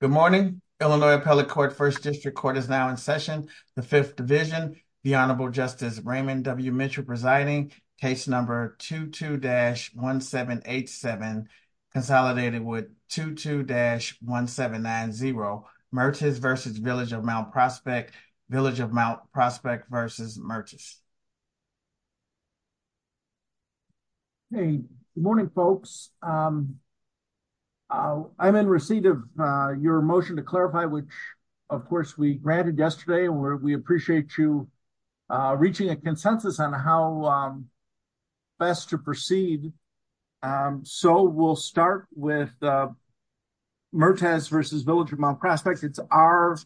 Good morning, Illinois Appellate Court, 1st District Court is now in session. The 5th Division, the Honorable Justice Raymond W. Mitchell presiding, case number 22-1787, consolidated with 22-1790, Mertes v. Village of Mount Prospect, Village of Mount Prospect v. Mertes. Good morning, folks. I'm in receipt of your motion to clarify, which, of course, we granted yesterday, and we appreciate you reaching a consensus on how best to proceed. So, we'll start with Mertes v. Village of Mount Prospect. It's our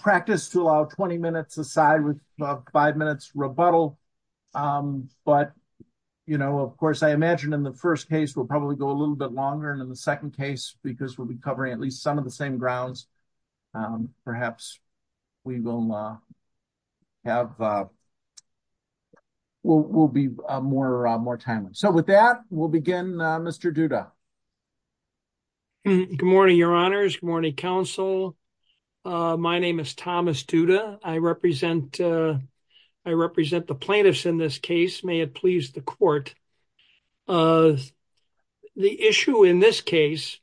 practice to allow 20 minutes aside with a 5-minute rebuttal, but, you know, of course, I imagine in the 1st case, we'll probably go a little bit longer, and in the 2nd case, because we'll be covering at least some of the same grounds. Perhaps we will be more timely. So, with that, we'll begin, Mr. Duda. Good morning, Your Honors. Good morning, Counsel. My name is Thomas Duda. I represent the plaintiffs in this case. May it please the Court. The issue in this case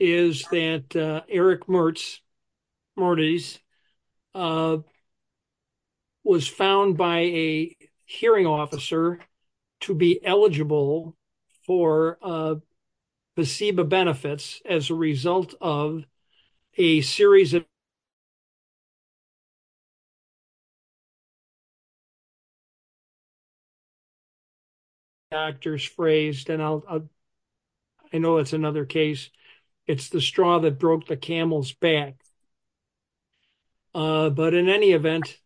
is that Eric Mertes was found by a hearing officer to be eligible for FASEBA benefits as a result of a series of factors phrased, and I know it's another case. It's the straw that broke the camel's back. But in any event,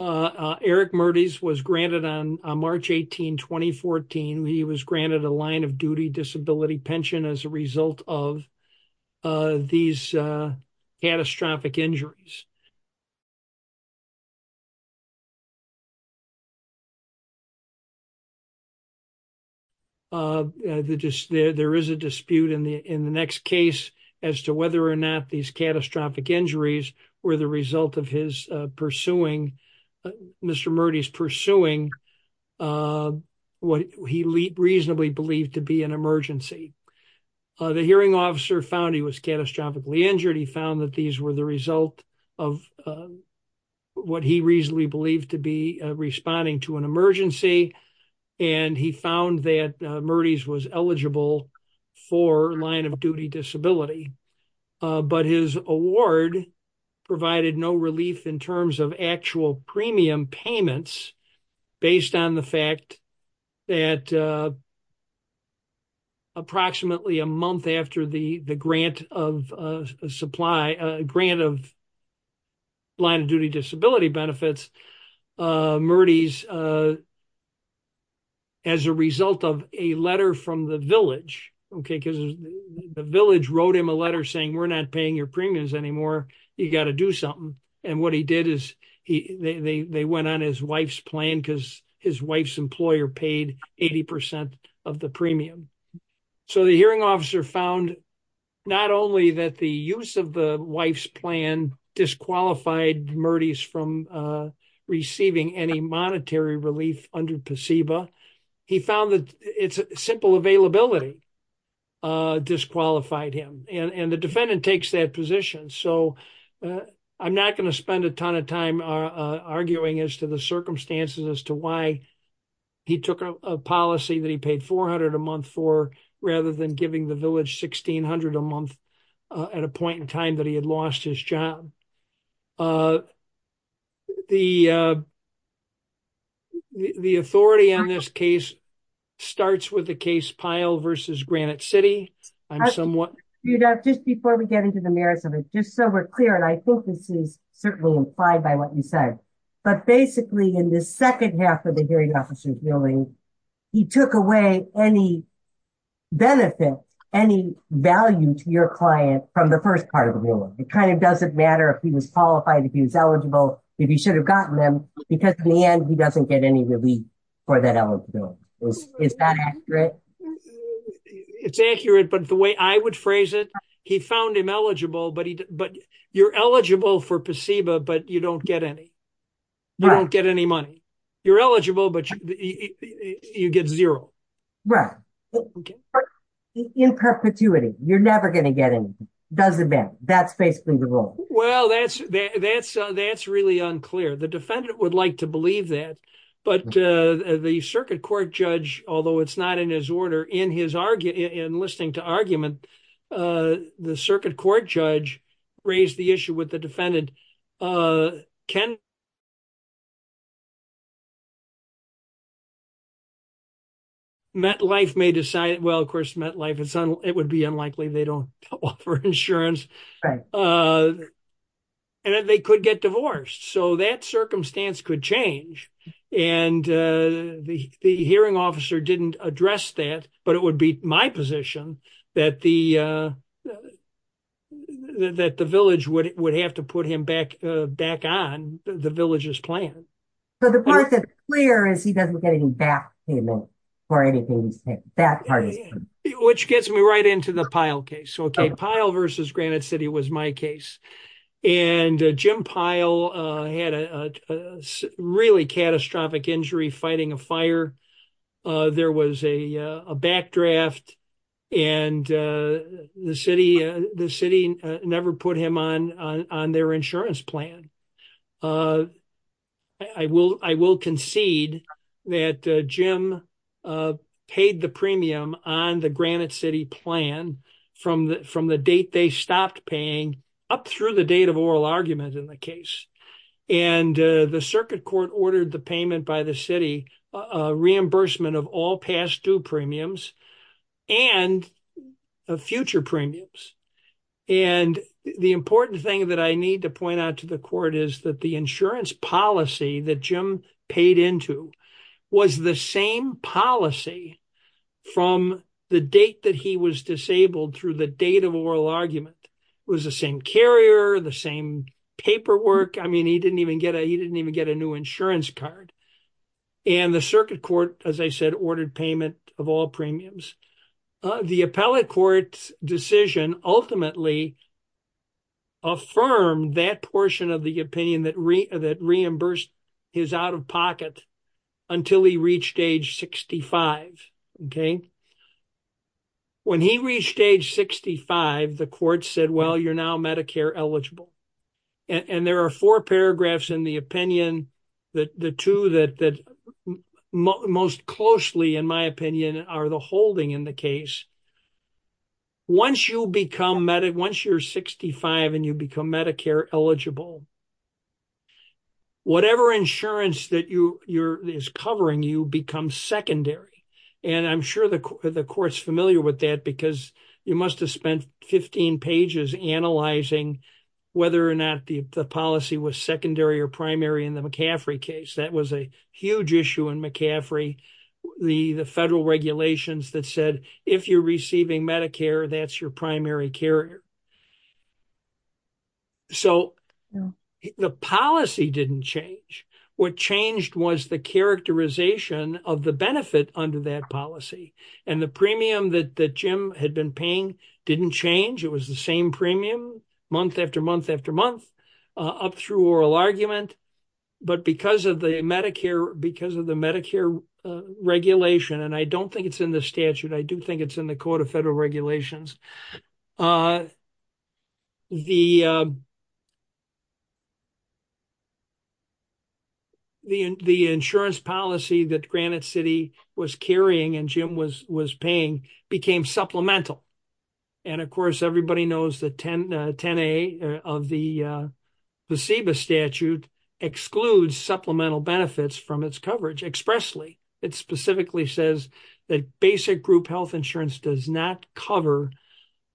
Eric Mertes was granted on March 18, 2014, he was granted a line-of-duty disability pension as a result of these catastrophic injuries. There is a dispute in the next case as to whether or not these catastrophic injuries were the result of Mr. Mertes pursuing what he reasonably believed to be an emergency. The hearing officer found he was catastrophically injured. He found that these were the result of what he reasonably believed to be responding to an emergency, and he found that Mertes was eligible for line-of-duty disability. But his award provided no relief in terms of actual premium payments based on the fact that approximately a month after the grant of line-of-duty disability benefits, Mertes, as a result of a letter from the village, okay, because the village wrote him a letter saying, we're not paying your premiums anymore. You got to do something. And what he did is they went on his wife's plan because his wife's employer paid 80% of the premium. So the hearing officer found not only that the use of the wife's plan disqualified Mertes from receiving any monetary relief under PSEBA, he found that simple availability disqualified him. And the defendant takes that position. So I'm not going to spend a ton of time arguing as to the circumstances as to why he took a policy that he paid $400 a month for rather than giving the village $1,600 a month at a point in time that he had lost his job. The authority in this case starts with the case Pyle versus Granite City. Just before we get into the merits of it, just so we're clear, and I think this is certainly implied by what you said, but basically in the second half of the hearing officer's ruling, he took away any benefit, any value to your client from the first part of the ruling. It kind of doesn't matter if he was qualified, if he was eligible, if he should have gotten them, because in the end, he doesn't get any relief for that eligibility. Is that accurate? It's accurate, but the way I would phrase it, he found him eligible, but you're eligible for PSEBA, but you don't get any. You don't get any money. You're eligible, but you get zero. Right. In perpetuity, you're never going to get anything. Doesn't matter. That's basically the rule. Well, that's really unclear. The defendant would like to believe that, but the circuit court judge, although it's not in his order, in listening to argument, the circuit court judge raised the issue with the defendant. MetLife may decide, well, of course, MetLife, it would be unlikely they don't offer insurance, and that they could get divorced. So that circumstance could change, and the hearing officer didn't address that, but it would be my position that the village would have to put him back in. Back on the village's plan. So, the part that's clear is he doesn't get any back payment for anything. Which gets me right into the Pyle case. So, Pyle versus Granite City was my case, and Jim Pyle had a really catastrophic injury fighting a fire. There was a back draft, and the city never put him on their insurance plan. I will concede that Jim paid the premium on the Granite City plan from the date they stopped paying up through the date of oral argument in the case. And the circuit court ordered the payment by the city, reimbursement of all past due premiums and future premiums. And the important thing that I need to point out to the court is that the insurance policy that Jim paid into was the same policy from the date that he was disabled through the date of oral argument. It was the same carrier, the same paperwork. I mean, he didn't even get a new insurance card. And the circuit court, as I said, ordered payment of all premiums. The appellate court's decision ultimately affirmed that portion of the opinion that reimbursed his out-of-pocket until he reached age 65. When he reached age 65, the court said, well, you're now Medicare eligible. And there are four paragraphs in the opinion, the two that most closely, in my opinion, are the holding in the case. Once you become, once you're 65 and you become Medicare eligible, whatever insurance that is covering you becomes secondary. And I'm sure the court's familiar with that because you must have spent 15 pages analyzing whether or not the policy was secondary or primary in the McCaffrey case. That was a huge issue in McCaffrey, the federal regulations that said, if you're receiving Medicare, that's your primary carrier. So the policy didn't change. What changed was the characterization of the benefit under that policy. And the premium that Jim had been paying didn't change. It was the same premium month after month after month up through oral argument. But because of the Medicare, because of the Medicare regulation, and I don't think it's in the statute. I do think it's in the court of federal regulations. The insurance policy that Granite City was carrying and Jim was paying became supplemental. And, of course, everybody knows that 10A of the CEBA statute excludes supplemental benefits from its coverage expressly. It specifically says that basic group health insurance does not cover,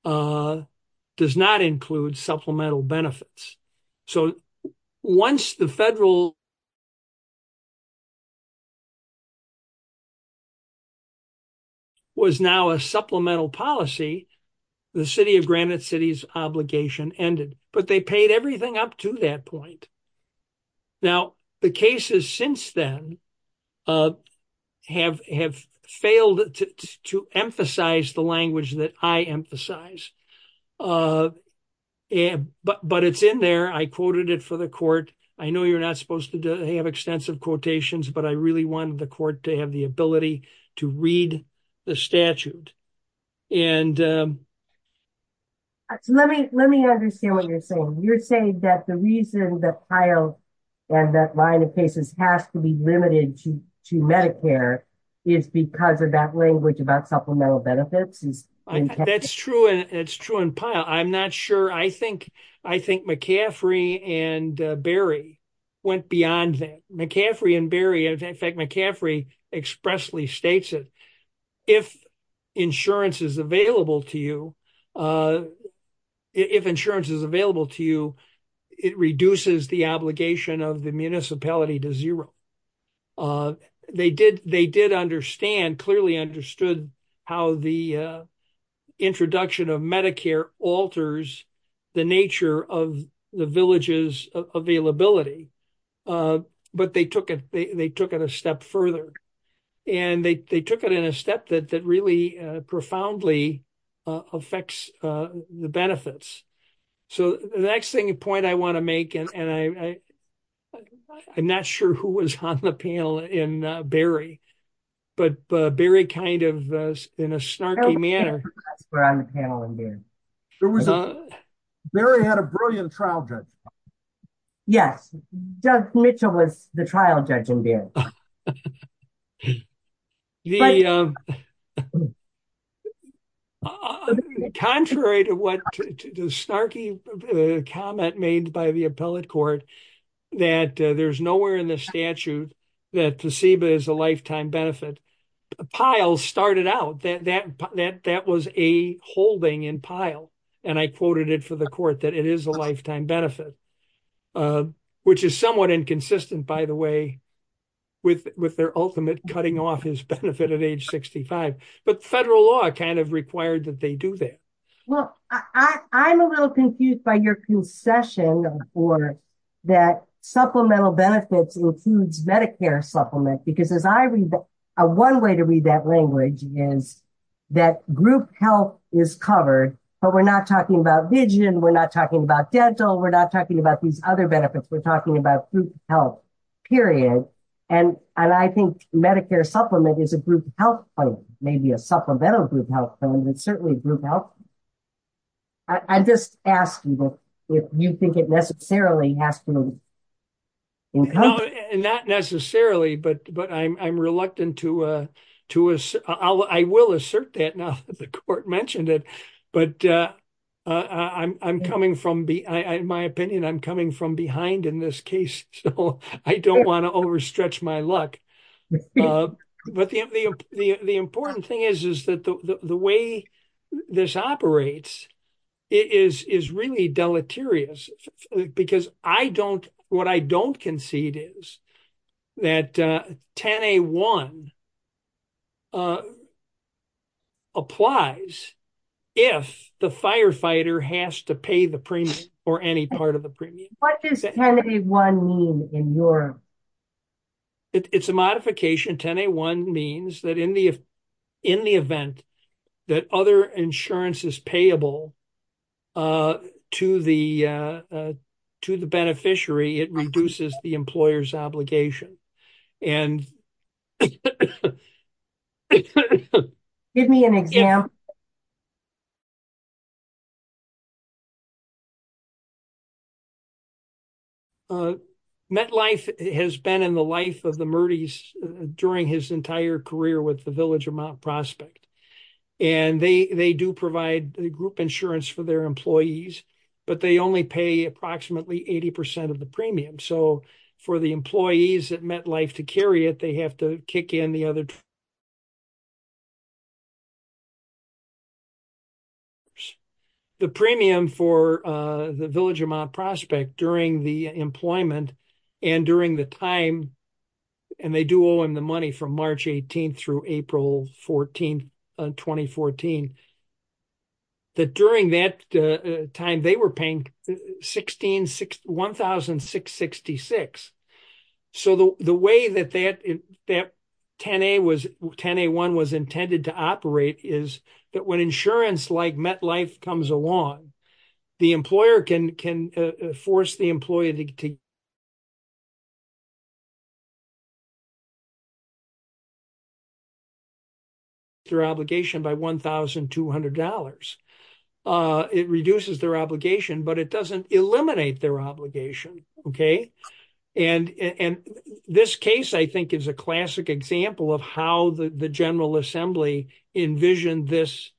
does not include supplemental benefits. So once the federal was now a supplemental policy, the city of Granite City's obligation ended, but they paid everything up to that point. Now, the cases since then have failed to emphasize the language that I emphasize. But it's in there. I quoted it for the court. I know you're not supposed to have extensive quotations, but I really wanted the court to have the ability to read the statute. Let me understand what you're saying. You're saying that the reason that PILE and that line of patients have to be limited to Medicare is because of that language about supplemental benefits? That's true. It's true in PILE. I'm not sure. I think McCaffrey and Berry went beyond that. McCaffrey and Berry, in fact, McCaffrey expressly states that if insurance is available to you, if insurance is available to you, it reduces the obligation of the municipality to zero. They did understand, clearly understood, how the introduction of Medicare alters the nature of the village's availability. But they took it a step further, and they took it in a step that really profoundly affects the benefits. So the next point I want to make, and I'm not sure who was on the panel in Berry, but Berry kind of in a snarky manner. Berry had a brilliant trial judge. Yes, Judge Mitchell was the trial judge in there. Contrary to what the snarky comment made by the appellate court, that there's nowhere in the statute that TCEBA is a lifetime benefit. PILE started out that that was a holding in PILE, and I quoted it for the court that it is a lifetime benefit, which is somewhat inconsistent, by the way. With their ultimate cutting-off is benefit at age 65. But federal law kind of required that they do that. Well, I'm a little confused by your concession for that supplemental benefits includes Medicare supplements. Because one way to read that language is that group health is covered, but we're not talking about vision. We're not talking about dental. We're not talking about these other benefits. We're talking about group health, period. And I think Medicare supplement is a group health fund, maybe a supplemental group health fund, but certainly a group health fund. I'm just asking if you think it necessarily has to be included. Not necessarily, but I'm reluctant to, I will assert that now that the court mentioned it. But I'm coming from, in my opinion, I'm coming from behind in this case. So I don't want to overstretch my luck. But the important thing is that the way this operates is really deleterious. Because I don't, what I don't concede is that 10A1 applies if the firefighter has to pay the premium or any part of the premium. What does 10A1 mean in Europe? It's a modification. 10A1 means that in the event that other insurance is payable to the beneficiary, it reduces the employer's obligation. Give me a minute. MetLife has been in the life of the Murdys during his entire career with the Village of Mount Prospect. And they do provide group insurance for their employees, but they only pay approximately 80% of the premium. So for the employees at MetLife to carry it, they have to kick in the other. The premium for the Village of Mount Prospect during the employment and during the time, and they do owe him the money from March 18th through April 14th, 2014. That during that time, they were paying $1,666. So the way that 10A1 was intended to operate is that when insurance like MetLife comes along, the employer can force the employee to reduce their obligation by $1,200. It reduces their obligation, but it doesn't eliminate their obligation. Okay. And this case, I think, is a classic example of how the General Assembly envisioned this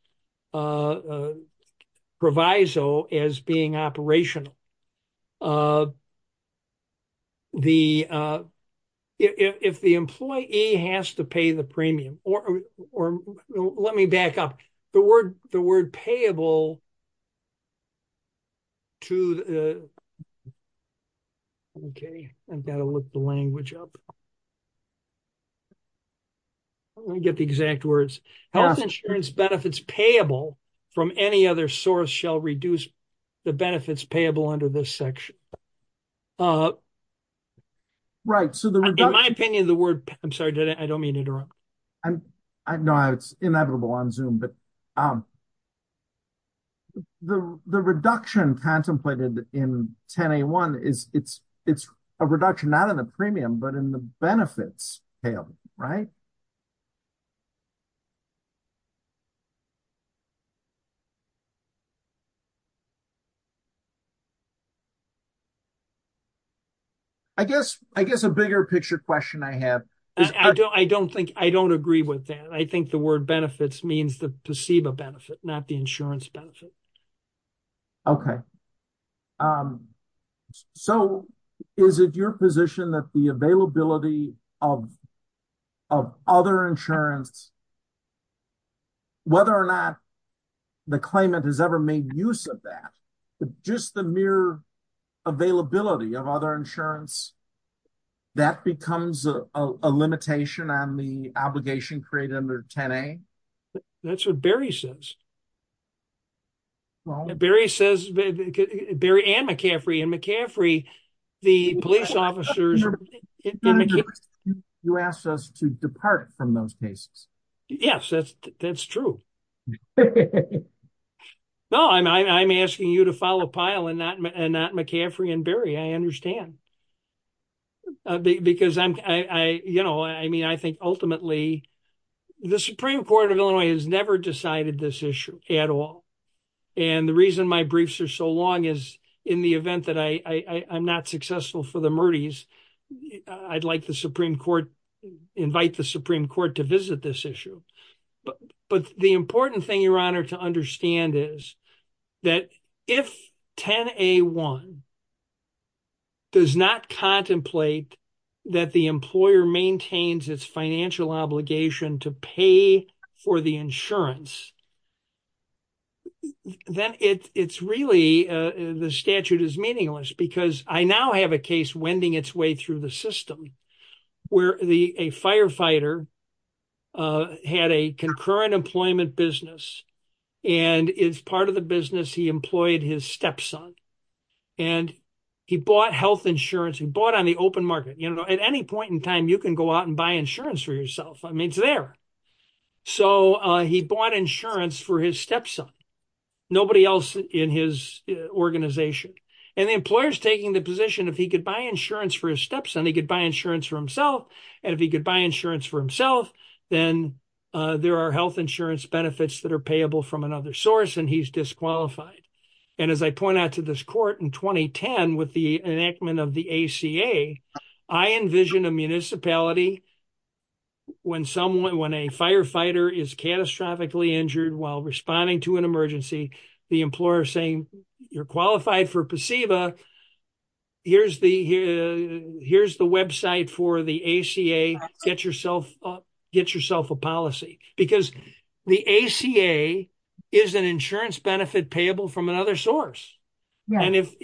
proviso as being operational. If the employee has to pay the premium, or let me back up. The word payable to, okay, I've got to look the language up. Let me get the exact words. Health insurance benefits payable from any other source shall reduce the benefits payable under this section. Right. In my opinion, the word, I'm sorry, I don't mean to interrupt. No, it's inevitable on Zoom. The reduction contemplated in 10A1, it's a reduction not in the premium, but in the benefits payable, right? I guess a bigger picture question I have. I don't think, I don't agree with that. I think the word benefits means the placebo benefit, not the insurance benefit. Okay. So, is it your position that the availability of other insurance, whether or not the claimant has ever made use of that, just the mere availability of other insurance, that becomes a limitation on the obligation created under 10A? That's what Barry says. Barry says, Barry and McCaffrey, and McCaffrey, the police officers... You asked us to depart from those cases. Yes, that's true. No, I'm asking you to follow Pyle and not McCaffrey and Barry, I understand. Because, you know, I mean, I think ultimately the Supreme Court of Illinois has never decided this issue at all. And the reason my briefs are so long is in the event that I'm not successful for the Murdys, I'd like the Supreme Court, invite the Supreme Court to visit this issue. But the important thing, Your Honor, to understand is that if 10A1 does not contemplate that the employer maintains its financial obligation to pay for the insurance, then it's really, the statute is meaningless. Because I now have a case wending its way through the system where a firefighter had a concurrent employment business. And as part of the business, he employed his stepson. And he bought health insurance, he bought on the open market. At any point in time, you can go out and buy insurance for yourself. I mean, it's there. So he bought insurance for his stepson, nobody else in his organization. And the employer's taking the position if he could buy insurance for his stepson, he could buy insurance for himself. And if he could buy insurance for himself, then there are health insurance benefits that are payable from another source and he's disqualified. And as I point out to this court in 2010 with the enactment of the ACA, I envision a municipality when someone, when a firefighter is catastrophically injured while responding to an emergency, the employer saying, you're qualified for a placebo. Here's the website for the ACA, get yourself a policy. Because the ACA is an insurance benefit payable from another source. And if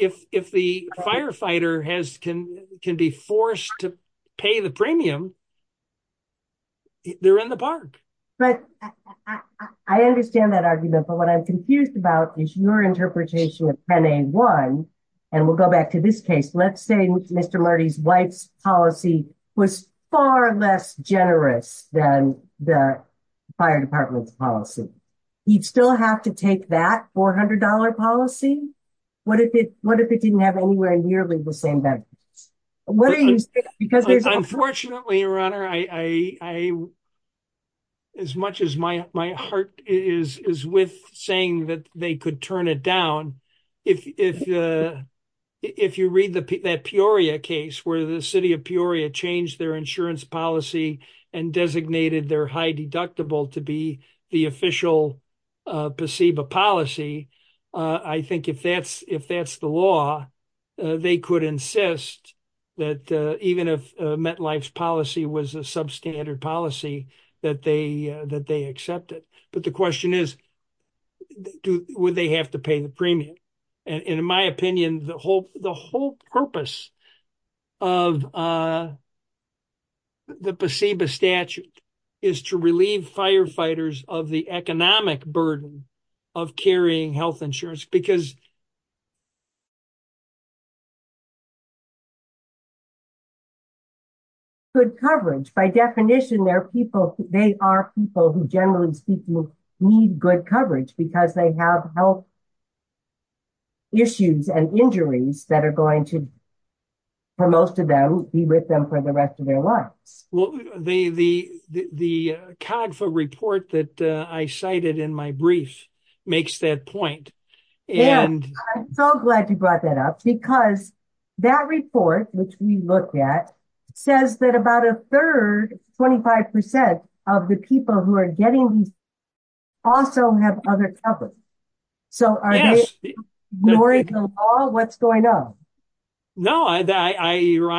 the firefighter can be forced to pay the premium, they're in the park. But I understand that argument, but what I'm confused about is your interpretation of 10A1, and we'll go back to this case. Let's say Mr. Marty's wife's policy was far less generous than the fire department's policy. He'd still have to take that $400 policy? What if it didn't have anywhere nearly the same benefits? Unfortunately, your honor, as much as my heart is with saying that they could turn it down, if you read that Peoria case where the city of Peoria changed their insurance policy and designated their high deductible to be the official placebo policy, I think if that's the law, they could insist that even if MetLife's policy was a substandard policy, that they accept it. But the question is, would they have to pay the premium? In my opinion, the whole purpose of the placebo statute is to relieve firefighters of the economic burden of carrying health insurance. Good coverage. By definition, they are people who generally need good coverage because they have health issues and injuries that are going to, for most of them, be with them for the rest of their lives. The CADFA report that I cited in my brief makes that point. I'm so glad you brought that up because that report, which we looked at, says that about a third, 25%, of the people who are getting it also have other coverage. So are they ignoring the law? What's going on? No, Your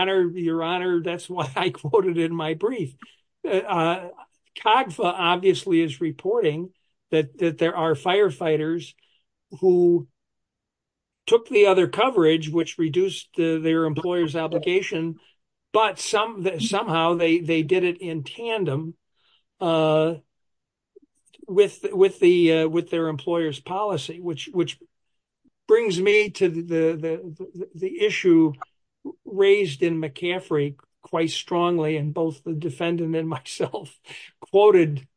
Honor, that's what I quoted in my brief. CADFA obviously is reporting that there are firefighters who took the other coverage, which reduced their employer's obligation, but somehow they did it in tandem with their employer's policy. Which brings me to the issue raised in McCaffrey quite strongly, and both the defendant and myself quoted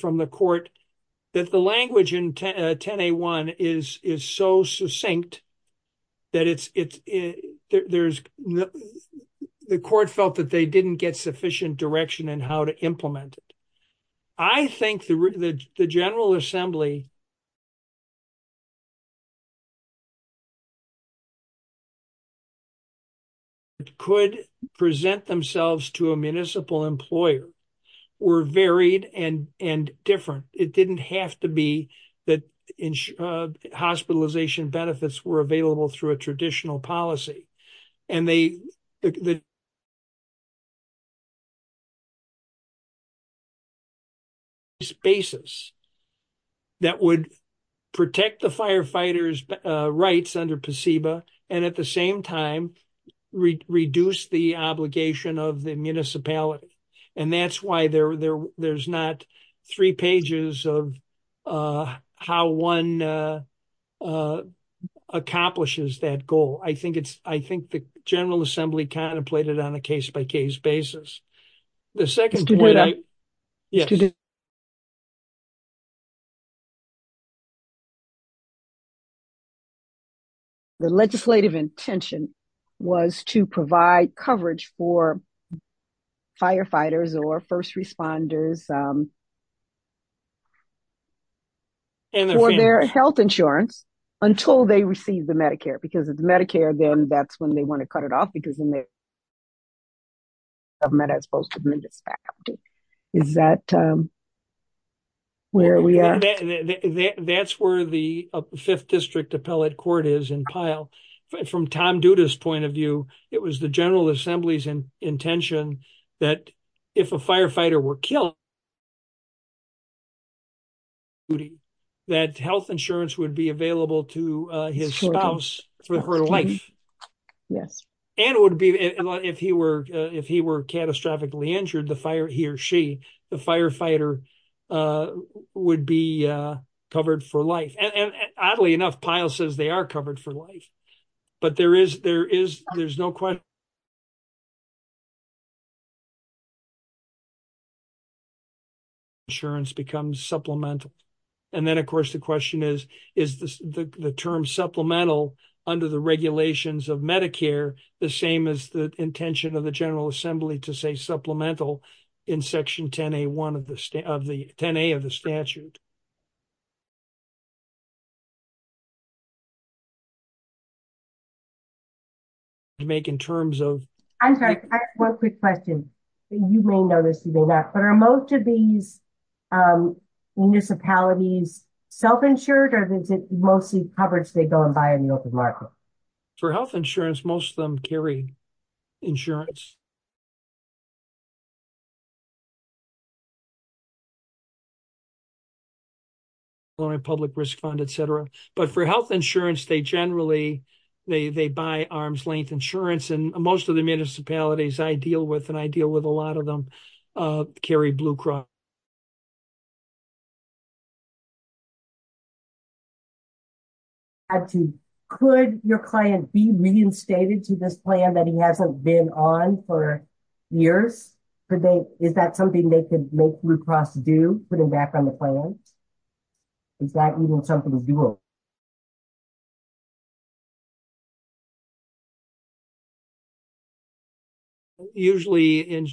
from the court, that the language in 10A1 is so succinct that the court felt that they didn't get sufficient direction in how to implement it. I think the General Assembly could present themselves to a municipal employer were varied and different. It didn't have to be that hospitalization benefits were available through a traditional policy. And they... spaces that would protect the firefighters' rights under PCEBA, and at the same time, reduce the obligation of the municipality. And that's why there's not three pages of how one accomplishes that goal. I think the General Assembly contemplated on a case-by-case basis. The second point... To do that? Yes. The legislative intention was to provide coverage for firefighters or first responders for their health insurance until they receive the Medicare, because if Medicare, then that's when they want to cut it off, because then they... Is that where we are? That's where the 5th District Appellate Court is in Pyle. From Tom Duda's point of view, it was the General Assembly's intention that if a firefighter were killed, that health insurance would be available to his spouse for her life. Yes. And it would be... If he were catastrophically injured, he or she, the firefighter, would be covered for life. And oddly enough, Pyle says they are covered for life. But there is... There is... There's no question... Insurance becomes supplemental. And then, of course, the question is, is the term supplemental under the regulations of Medicare the same as the intention of the General Assembly to say supplemental in Section 10A1 of the... 10A of the statute? To make in terms of... I'm sorry. One quick question. You may know this, but are most of these municipalities self-insured, or is it mostly coverage they go and buy in the open market? For health insurance, most of them carry insurance. Public risk fund, et cetera. But for health insurance, they generally, they buy arm's length insurance. And most of the municipalities I deal with, and I deal with a lot of them, carry Blue Cross. I'm sorry. Could your client be reinstated to this plan that he hasn't been on for years? Could they... Is that something they could make Blue Cross do, putting back on the plan? Is that even something to do with? Usually,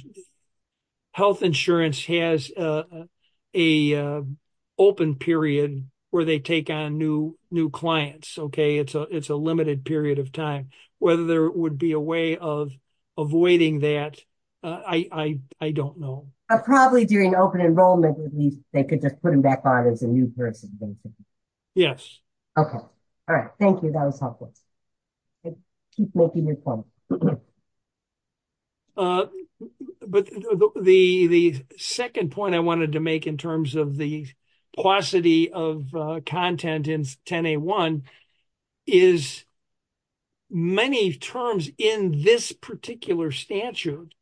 health insurance has a open period where they take on new clients, okay? It's a limited period of time. Whether there would be a way of avoiding that, I don't know. Probably during open enrollment, they could just put him back on as a new person. Yes. Okay. All right. Thank you. That was helpful. Keep working your plan. But the second point I wanted to make in terms of the paucity of content in 10A1 is many terms in this particular statute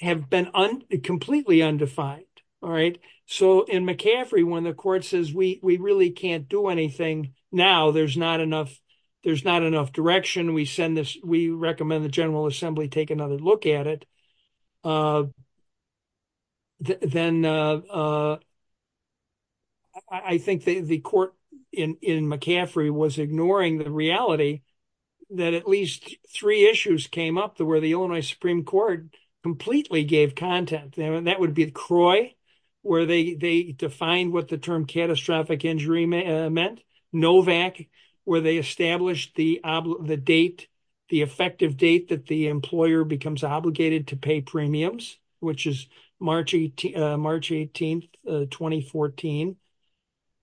have been completely undefined. All right? So in McCaffrey, when the court says, we really can't do anything now, there's not enough direction. We recommend the General Assembly take another look at it. Then I think the court in McCaffrey was ignoring the reality that at least three issues came up where the Illinois Supreme Court completely gave content. That would be CROI, where they defined what the term catastrophic injury meant. NOVAC, where they established the date, the effective date that the employer becomes obligated to pay premiums, which is March 18, 2014.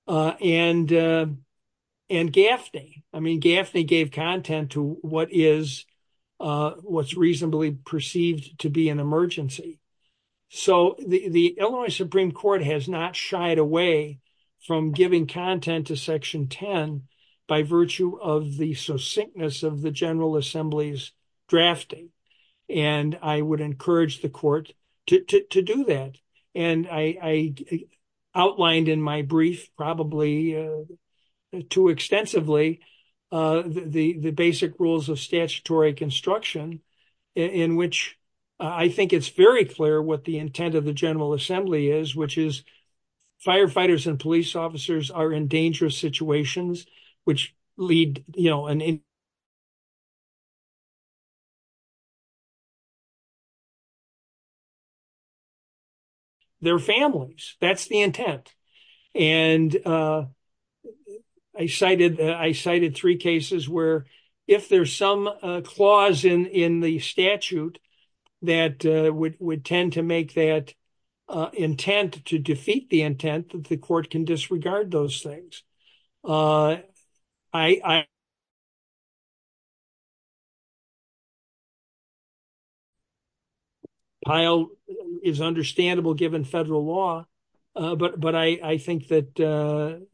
And GAFNI. I mean, GAFNI gave content to what is reasonably perceived to be an emergency. So the Illinois Supreme Court has not shied away from giving content to Section 10 by virtue of the succinctness of the General Assembly's drafting. And I would encourage the court to do that. And I outlined in my brief, probably too extensively, the basic rules of statutory construction, in which I think it's very clear what the intent of the General Assembly is, which is firefighters and police officers are in dangerous situations, which lead, you know, their families. That's the intent. And I cited three cases where if there's some clause in the statute that would tend to make that intent to defeat the intent, that the court can disregard those things. Pyle is understandable given federal law, but I think that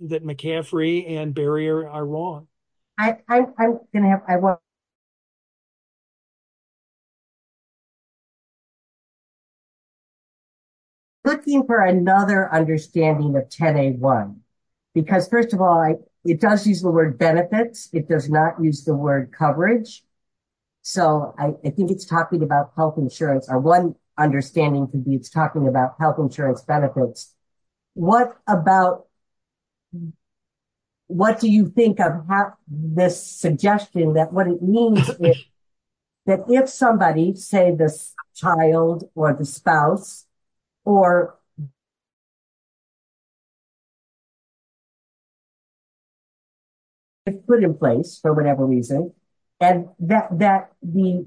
McCaffrey and Barrier are wrong. Looking for another understanding of 10A1. Because, first of all, it does use the word benefits. It does not use the word coverage. So I think it's talking about health insurance. One understanding could be it's talking about health insurance benefits. What about, what do you think of this suggesting that what it means is that if somebody, say the child or the spouse, or it's put in place for whatever reason, and that the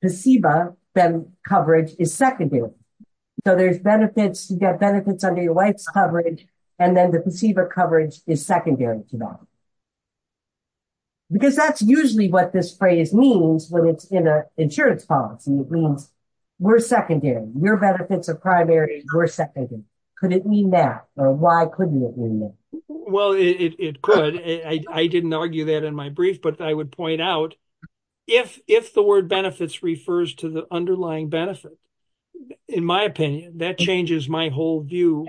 placebo then coverage is secondary. So there's benefits, you get benefits under your wife's coverage, and then the placebo coverage is secondary to that. Because that's usually what this phrase means when it's in an insurance policy. It means we're secondary. Your benefits are primary, we're secondary. Could it mean that? Or why couldn't it mean that? Well, it could. I didn't argue that in my brief, but I would point out if the word benefits refers to the underlying benefits, in my opinion, that changes my whole view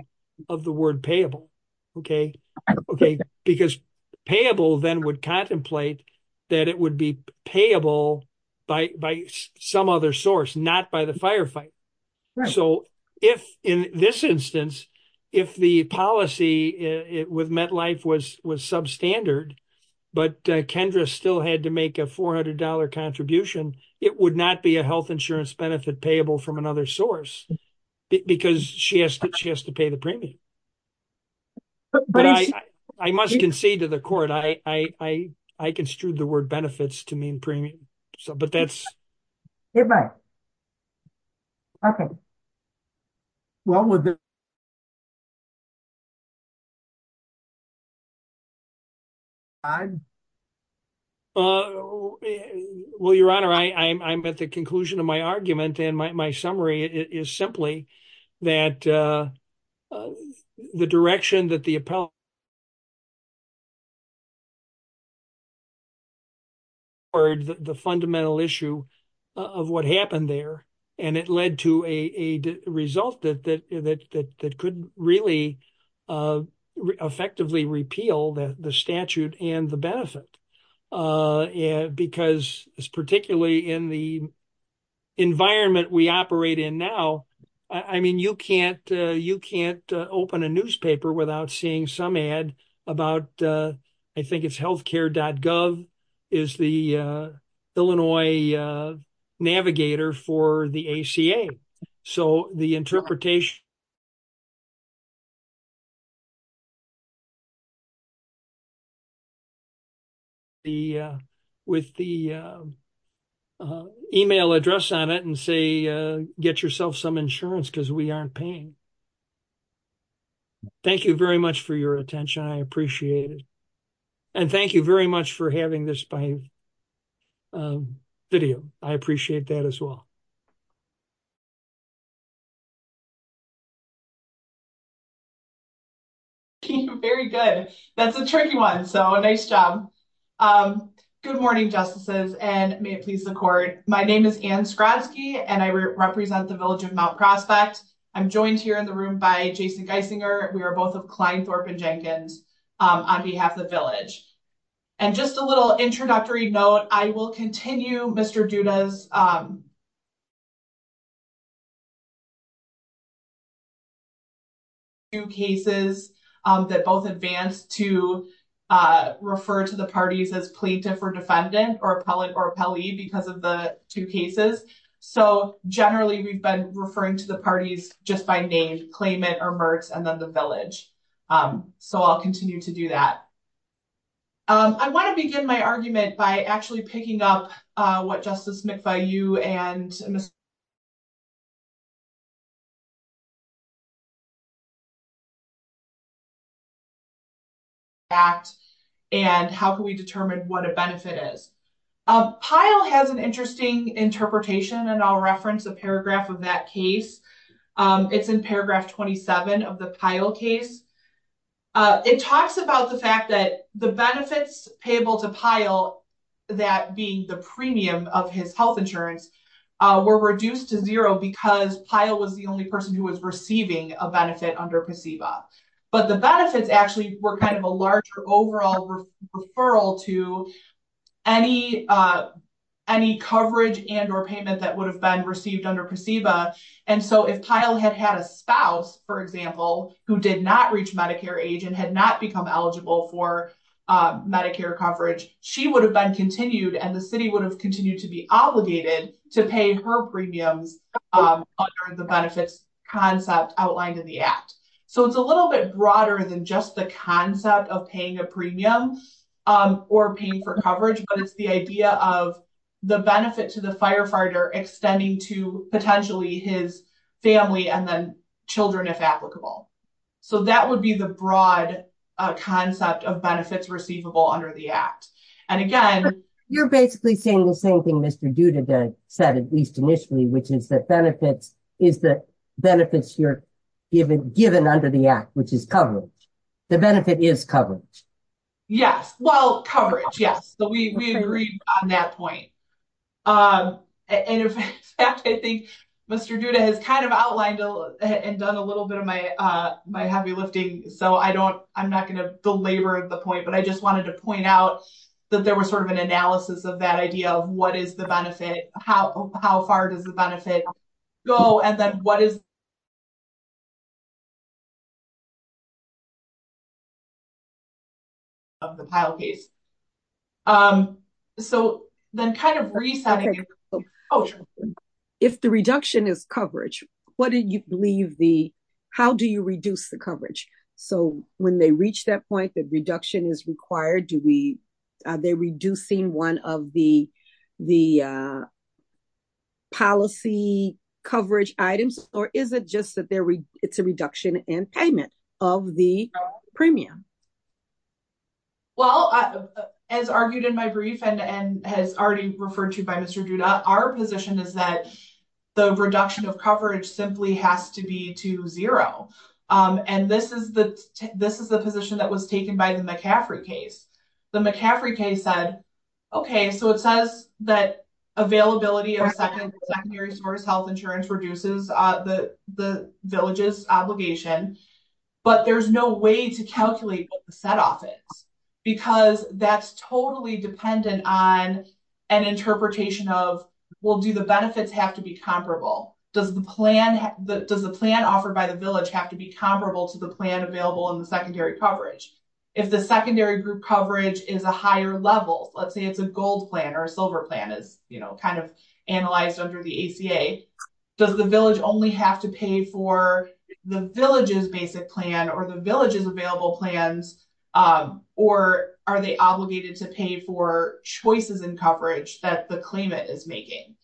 of the word payable. Because payable then would contemplate that it would be payable by some other source, not by the firefighter. So if in this instance, if the policy with MetLife was substandard, but Kendra still had to make a $400 contribution, it would not be a health insurance benefit payable from another source because she has to pay the premium. I must concede to the court, I construed the word benefits to mean premium. Well, your Honor, I'm at the conclusion of my argument, and my summary is simply that the direction that the appellate or the fundamental issue of what happened there, and it led to a result that could really effectively repeal the statute and the benefit. Because particularly in the environment we operate in now, I mean, you can't open a newspaper without seeing some ad about, I think it's healthcare.gov is the Illinois navigator for the ACA. So the interpretation. With the email address on it and say, get yourself some insurance because we aren't paying. Thank you very much for your attention. I appreciate it. And thank you very much for having this video. I appreciate that as well. Very good. That's a tricky one. So a nice job. Good morning, justices and may it please the court. My name is Anne Skrotsky and I represent the village of Mount Prospect. I'm joined here in the room by Jason Geisinger. We are both of Kleinsdorf and Jenkins on behalf of the village. And just a little introductory note, I will continue Mr. Judah's two cases that both advance to refer to the parties as plaintiff or defendant or appellate or appellee because of the two cases. So, generally, we've been referring to the parties just by name, claimant or Mertz and then the village. So I'll continue to do that. I want to begin my argument by actually picking up what Justice McVie you and. And how can we determine what a benefit is? Pyle has an interesting interpretation and I'll reference the paragraph of that case. It's in paragraph 27 of the Pyle case. It talks about the fact that the benefits payable to Pyle, that being the premium of his health insurance, were reduced to zero because Pyle was the only person who was receiving a benefit under PSEVA. But the benefits actually were kind of a larger overall referral to any coverage and or payment that would have been received under PSEVA. And so if Pyle had had a spouse, for example, who did not reach Medicare age and had not become eligible for Medicare coverage, she would have been continued and the city would have continued to be obligated to pay her premium under the benefits concept outlined in the act. So it's a little bit broader than just the concept of paying a premium or paying for coverage, but it's the idea of the benefit to the firefighter extending to potentially his family and then children, if applicable. So that would be the broad concept of benefits receivable under the act. And again, you're basically saying the same thing Mr. Duda said, at least initially, which is that benefits are given under the act, which is coverage. The benefit is coverage. Yes, well, coverage. Yes. So we agree on that point. And I think Mr. Duda has kind of outlined and done a little bit of my heavy lifting. So I don't, I'm not going to belabor the point, but I just wanted to point out that there was sort of an analysis of that idea of what is the benefit, how, how far does the benefit go? And then what is. So then kind of reset. If the reduction is coverage, what do you believe the, how do you reduce the coverage? So when they reach that point that reduction is required, do we, are they reducing one of the, the policy coverage items, or is it just that there is a reduction in payment of the premium? Well, as argued in my brief and has already referred to by Mr. Duda, our position is that the reduction of coverage simply has to be to 0. And this is the, this is the position that was taken by the McCaffrey case. The McCaffrey case said, okay, so it says that availability or secondary source health insurance reduces the villages obligation, but there's no way to calculate set off it. Because that's totally dependent on an interpretation of, well, do the benefits have to be comparable? Does the plan, does the plan offered by the village have to be comparable to the plan available in the secondary coverage? If the secondary group coverage is a higher level, let's say it's a gold plan or silver plan is kind of analyzed under the ACA. Does the village only have to pay for the villages basic plan or the villages available plans? Or are they obligated to pay for choices and coverage that the claimant is making?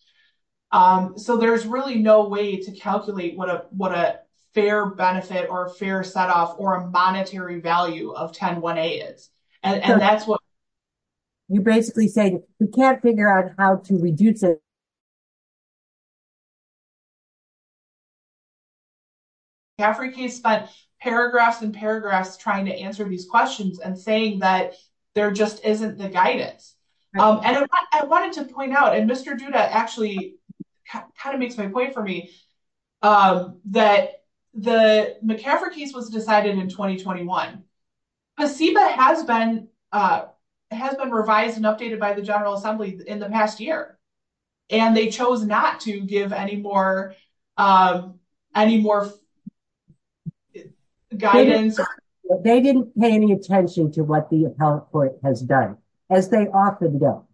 So, there's really no way to calculate what a, what a fair benefit or fair set off or a monetary value of 1018 is. And that's what. You basically say, you can't figure out how to reduce it. Paragraphs and paragraphs trying to answer these questions and saying that there just isn't the guidance. And I wanted to point out and Mr. Judah actually kind of makes my point for me. That the McCaffrey case was decided in 2021. Has been has been revised and updated by the general assembly in the past year. And they chose not to give any more. Any more guidance, but they didn't pay any attention to what the appellate court has done. As they often go,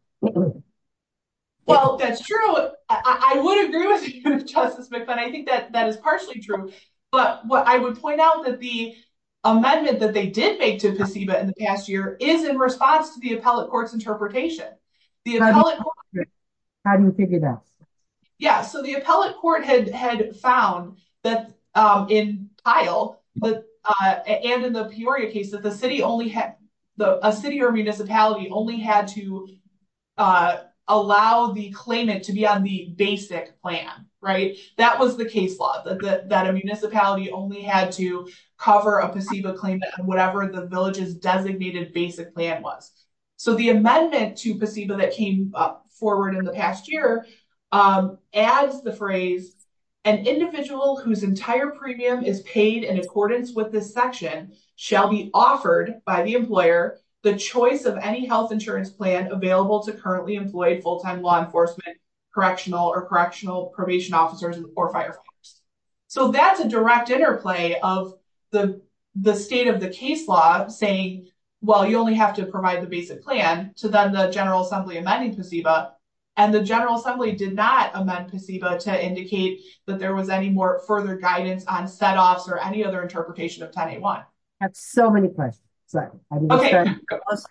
well, that's true. I would agree with you, but I think that that is partially true. But what I would point out that the amendment that they did make in the past year is in response to the appellate court interpretation. How do you figure that? Yeah, so the appellate court has had found that in file, but in the case that the city only had a city or municipality only had to. Allow the claimant to be on the basic plan, right? That was the case law that a municipality only had to cover a placebo claim that whatever the villages designated basic plan was. So, the amendment to placebo that came up forward in the past year as the phrase. An individual whose entire premium is paid in accordance with this section shall be offered by the employer, the choice of any health insurance plan available to currently employ full time law enforcement. Correctional or correctional probation officers before fire. So, that's a direct interplay of the, the state of the case law saying, well, you only have to provide the basic plan. So, then the General Assembly amending and the General Assembly did that to indicate that there was any more further guidance on set off or any other interpretation of. So many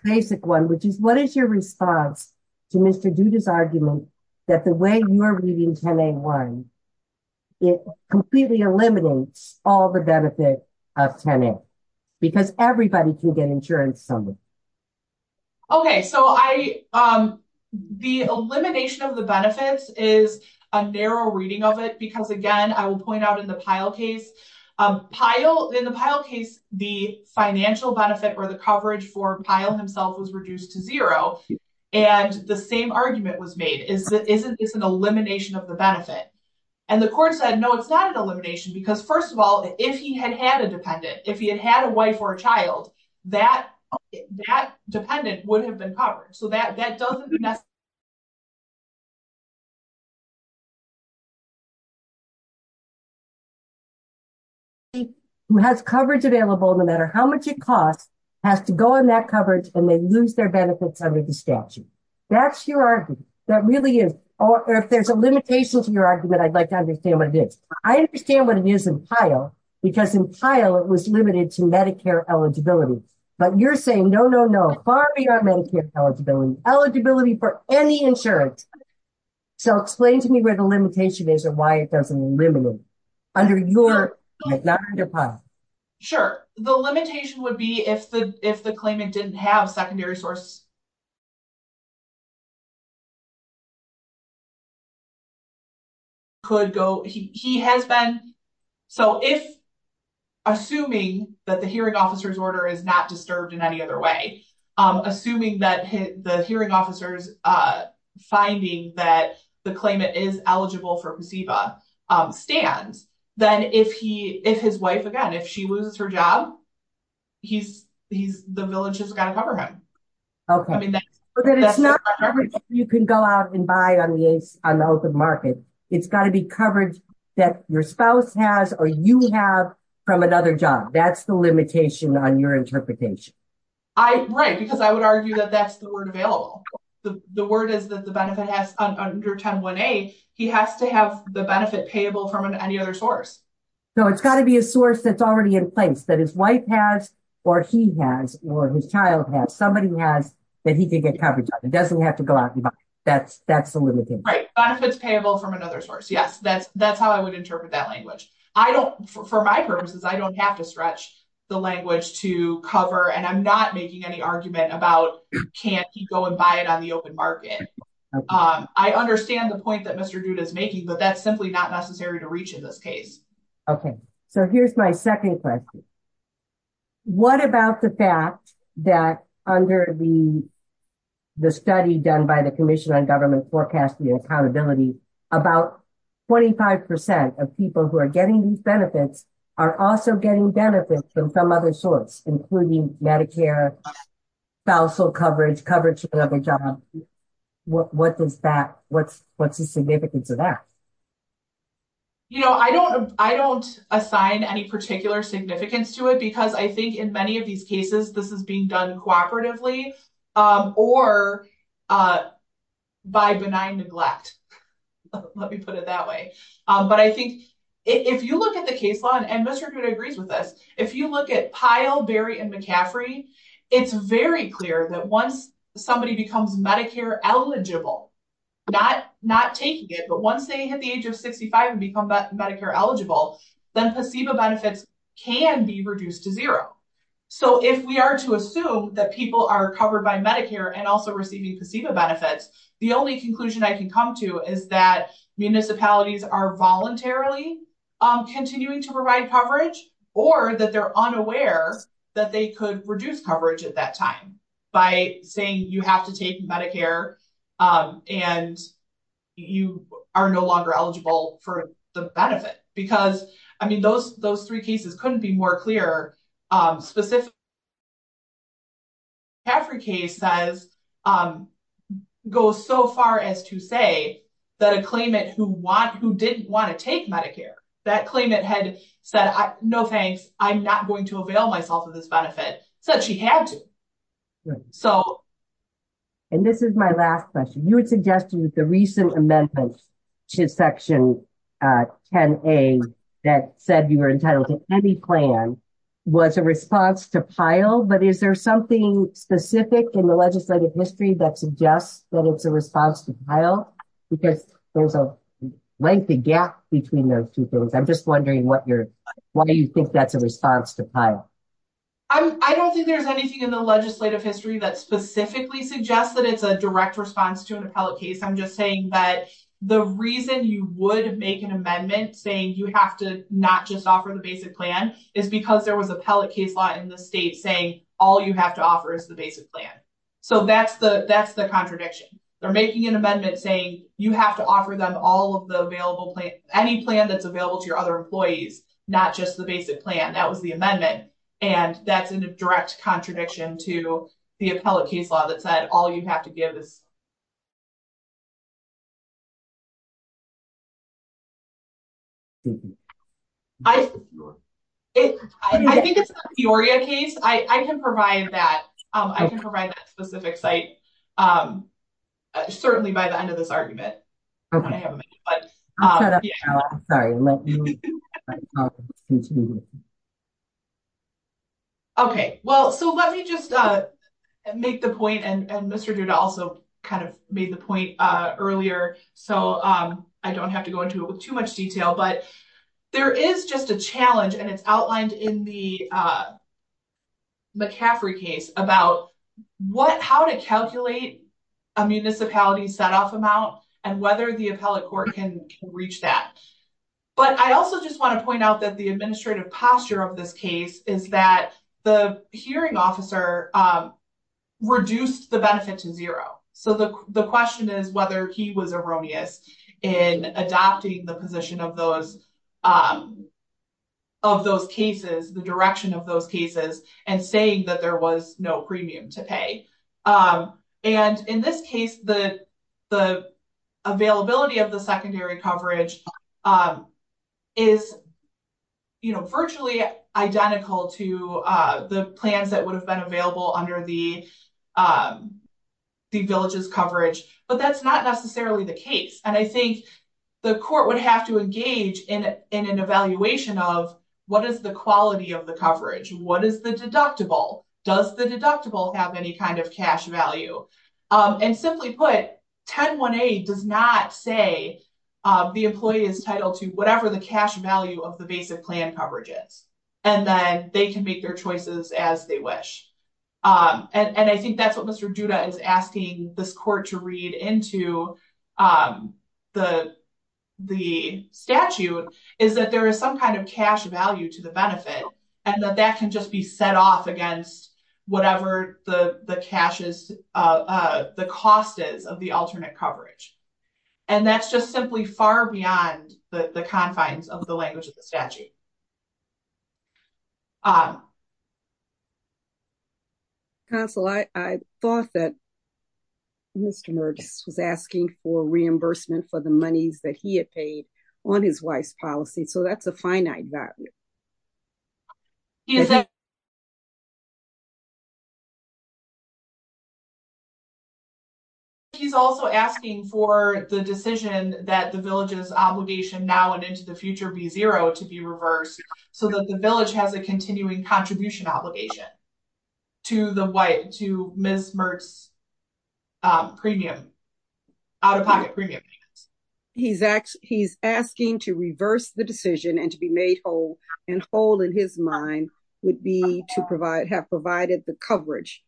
basic 1, which is what is your response? To Mr. do this argument that the way you are reading. It completely eliminates all the benefits of. Because everybody can get insurance. Okay. So I. The elimination of the benefits is a narrow reading of it because again, I will point out in the pile case pile in the pile case, the financial benefit, or the coverage for pile himself was reduced to 0. And the same argument was made is that it's an elimination of the benefit. And the course, I know it's not an elimination, because 1st of all, if he had had a dependent, if you had a wife or a child, that that dependent would have been covered. So that that doesn't. Who has coverage available, no matter how much it costs. Has to go on that coverage and then use their benefits under the statute. That's your argument that really is, or if there's a limitation to your argument, I'd like to understand what it is. I understand what it is in tile because in tile, it was limited to Medicare eligibility. But you're saying, no, no, no, no eligibility for any insurance. So, explain to me where the limitation is and why it doesn't limit. Under your sure, the limitation would be if the, if the claimant didn't have secondary source. Could go, he has been. So, if assuming that the hearing officer's order is not disturbed in any other way, assuming that the hearing officers finding that the claimant is eligible for stand. Then, if he, if his wife, again, if she was her job. He's the village has got a problem. Okay, you can go out and buy on the, on the open market. It's gotta be covered that your spouse has, or you have from another job. That's the limitation on your interpretation. I, because I would argue that that's the word available. The word is that the benefit has under 1018. He has to have the benefit table from any other source. So, it's gotta be a source that's already in place that his wife has, or he has, or his child has somebody that he can get covered. It doesn't have to go out. That's that's a little bit payable from another source. Yes, that's that's how I would interpret that language. I don't for my purposes. I don't have to stretch. The language to cover, and I'm not making any argument about can't go and buy it on the open market. I understand the point that Mr. is making, but that's simply not necessary to reach in this case. Okay. So here's my 2nd question. What about the fact that under the. The study done by the commission on government forecast accountability about. 25% of people who are getting these benefits are also getting benefits from some other source, including Medicare. Also coverage coverage. What does that what's what's the significance of that? You know, I don't I don't assign any particular significance to it because I think in many of these cases, this is being done cooperatively or. By benign neglect, let me put it that way. But I think if you look at the case, and Mr. agrees with this, if you look at pile, Barry and McCaffrey, it's very clear that once somebody becomes Medicare eligible. Not not taking it, but once they hit the age of 65 and become Medicare eligible, then placebo benefits can be reduced to 0. So, if we are to assume that people are covered by Medicare and also receiving placebo benefits, the only conclusion I can come to is that municipalities are voluntarily. Continuing to provide coverage, or that they're unaware that they could reduce coverage at that time. By saying, you have to take Medicare and. You are no longer eligible for the benefit because, I mean, those those 3 cases couldn't be more clear. Um, specific. Africa says, um, go so far as to say that a claimant who want who didn't want to take Medicare that claim it had said, no, thanks. I'm not going to avail myself of this benefit. So, and this is my last question, you would suggest the recent amendment. Section 10, a that said you were entitled to any plan. Was a response to file, but is there something specific in the legislative history that suggests that it's a response to file? Because there's a lengthy gap between those 2 things. I'm just wondering what you're. Why do you think that's a response to file? I don't think there's anything in the legislative history that specifically suggest that it's a direct response to an appellate case. I'm just saying that the reason you would make an amendment saying, you have to not just offer the basic plan is because there was appellate case law in the state saying all you have to offer is the basic plan. So, that's the, that's the contradiction. They're making an amendment saying, you have to offer them all of the available any plan that's available to your other employees. Not just the basic plan. That was the amendment. And that's a direct contradiction to the appellate case law that said, all you have to give. Okay, well, so let me just make the point and Mr. Duda also. I think it's the case I can provide that I can provide that specific site. Certainly by the end of this argument. Okay, well, so let me just make the point and Mr. Duda also kind of made the point earlier. So I don't have to go into it with too much detail, but there is just a challenge and it's outlined in the. McCaffrey case about what, how to calculate a municipality set off amount and whether the appellate court can reach that. But I also just want to point out that the administrative posture of this case is that the hearing officer. Reduce the benefit to 0. so the question is whether he was erroneous in adopting the position of those. Of those cases, the direction of those cases and saying that there was no premium to pay and in this case, the. Availability of the secondary coverage is. You know, virtually identical to the plans that would have been available under the. The village's coverage, but that's not necessarily the case and I think. The court would have to engage in an evaluation of. What is the quality of the coverage? What is the deductible? Does the deductible have any kind of cash value and simply put 10? 1? A does not say. The employee is titled to whatever the cash value of the basic plan coverage is. And then they can make their choices as they wish and I think that's what Mr Judah is asking this court to read into. Um, the, the statute is that there is some kind of cash value to the benefit and that that can just be set off against. Whatever the, the cash is, uh, the cost is of the alternate coverage. And that's just simply far beyond the confines of the language of the statute. Uh, I thought that. Mr. was asking for reimbursement for the money that he had paid on his wife's policy. So that's a finite value. He's also asking for the decision that the villages obligation now and into the future be 0 to be reversed. So that the village has a continuing contribution obligation. To the wife to miss. Premium. He's asked he's asking to reverse the decision and to be made whole and whole in his mind would be to provide have provided the coverage.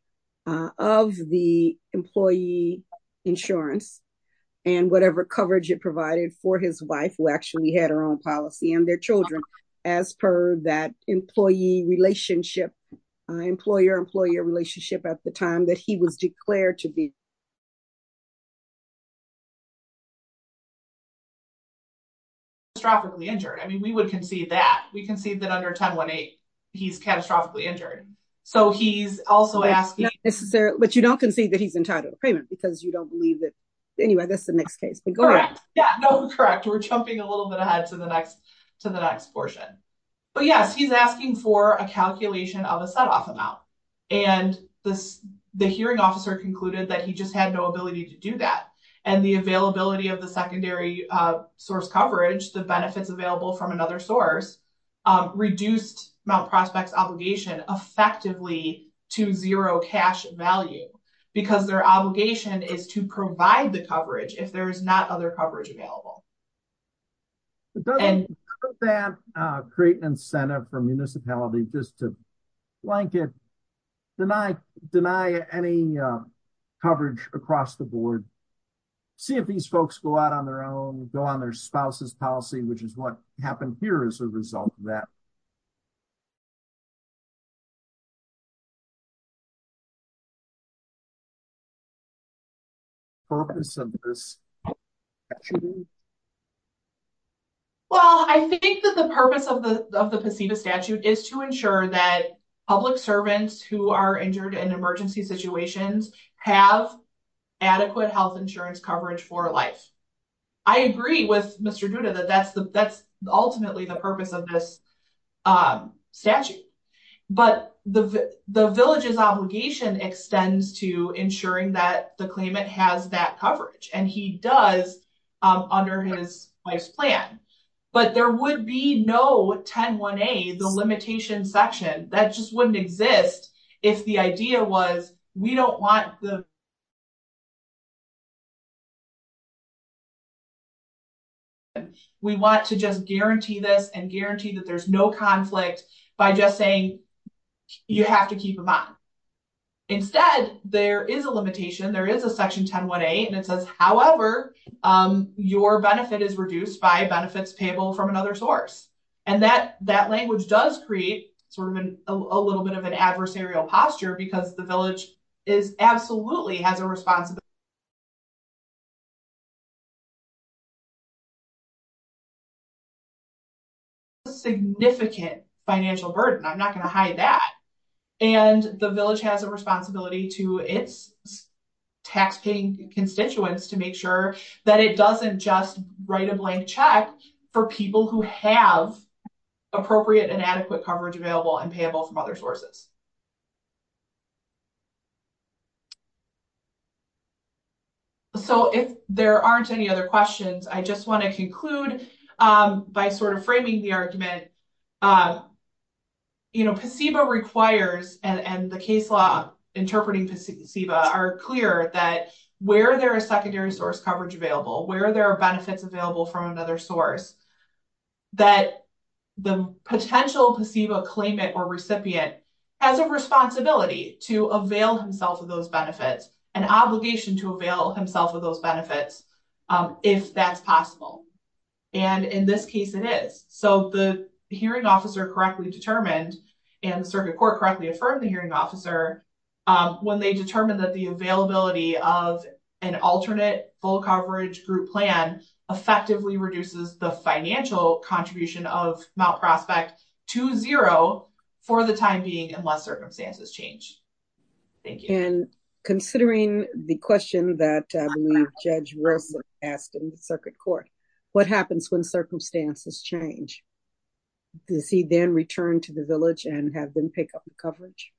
Of the employee insurance. And whatever coverage it provided for his wife, who actually had her own policy and their children as per that employee relationship. Employer employee relationship at the time that he was declared to be. Tropically injured, I mean, we would concede that we can see that under 1018. He's catastrophically injured, so he's also asking, but you don't concede that he's entitled payment because you don't believe it. Anyway, that's the next case correct. We're jumping a little bit ahead to the next to the next portion. But, yeah, he's asking for a calculation of a set off amount. And the, the hearing officer concluded that he just had no ability to do that and the availability of the secondary source coverage, the benefits available from another source. Reduce my prospects obligation effectively to 0 cash value, because their obligation is to provide the coverage. If there's not other coverage available. And create an incentive for municipalities just to. Like, deny, deny any coverage across the board. See, if these folks go out on their own, go on their spouses policy, which is what happened here as a result of that. Purpose of this. Well, I think that the purpose of the statute is to ensure that public servants who are injured in emergency situations have. Adequate health insurance coverage for life. I agree with Mr that that's that's ultimately the purpose of this. Statute, but the, the villages obligation extends to ensuring that the claimant has that coverage and he does. Under his wife's plan, but there would be no 10, 1 a, the limitation section that just wouldn't exist. If the idea was, we don't want the. We want to just guarantee this and guarantee that there's no conflict by just saying. You have to keep them up instead. There is a limitation. There is a section 1018 and it says, however, your benefit is reduced by benefits table from another source. And that that language does create sort of a little bit of an adversarial posture because the village. Is absolutely has a response. Significant financial burden. I'm not going to hire that. And the village has a responsibility to its. Taxing constituents to make sure that it doesn't just write a blank check for people who have. Appropriate and adequate coverage available and payable from other sources. So, if there aren't any other questions, I just want to conclude by sort of framing the argument. You know, receiver requires and the case law interpreting are clear that where there are secondary source coverage available where there are benefits available from another source. That the potential to see a claimant or recipient. Has a responsibility to avail himself of those benefits and obligation to avail himself of those benefits. If that's possible, and in this case, it is so the hearing officer correctly determined. And the circuit court correctly affirmed the hearing officer when they determined that the availability of an alternate full coverage group plan effectively reduces the financial contribution of Mount prospect. To 0 for the time being, unless circumstances change. And considering the question that judge asked in the circuit court, what happens when circumstances change? Does he then return to the village and have been picked up coverage?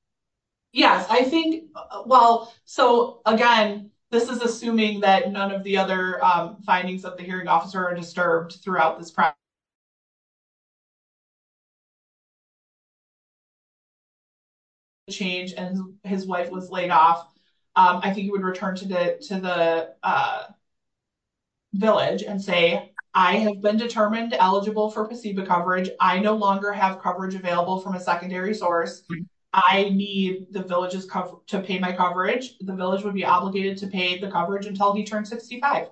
Yeah, I think well, so again, this is assuming that none of the other findings of the hearing officer are disturbed throughout this. Change and his white was laid off. I think he would return to the, to the. Village and say, I have been determined eligible for the coverage. I no longer have coverage available from a secondary source. I need the villages to pay my coverage. The village would be obligated to pay the coverage until he turned 65.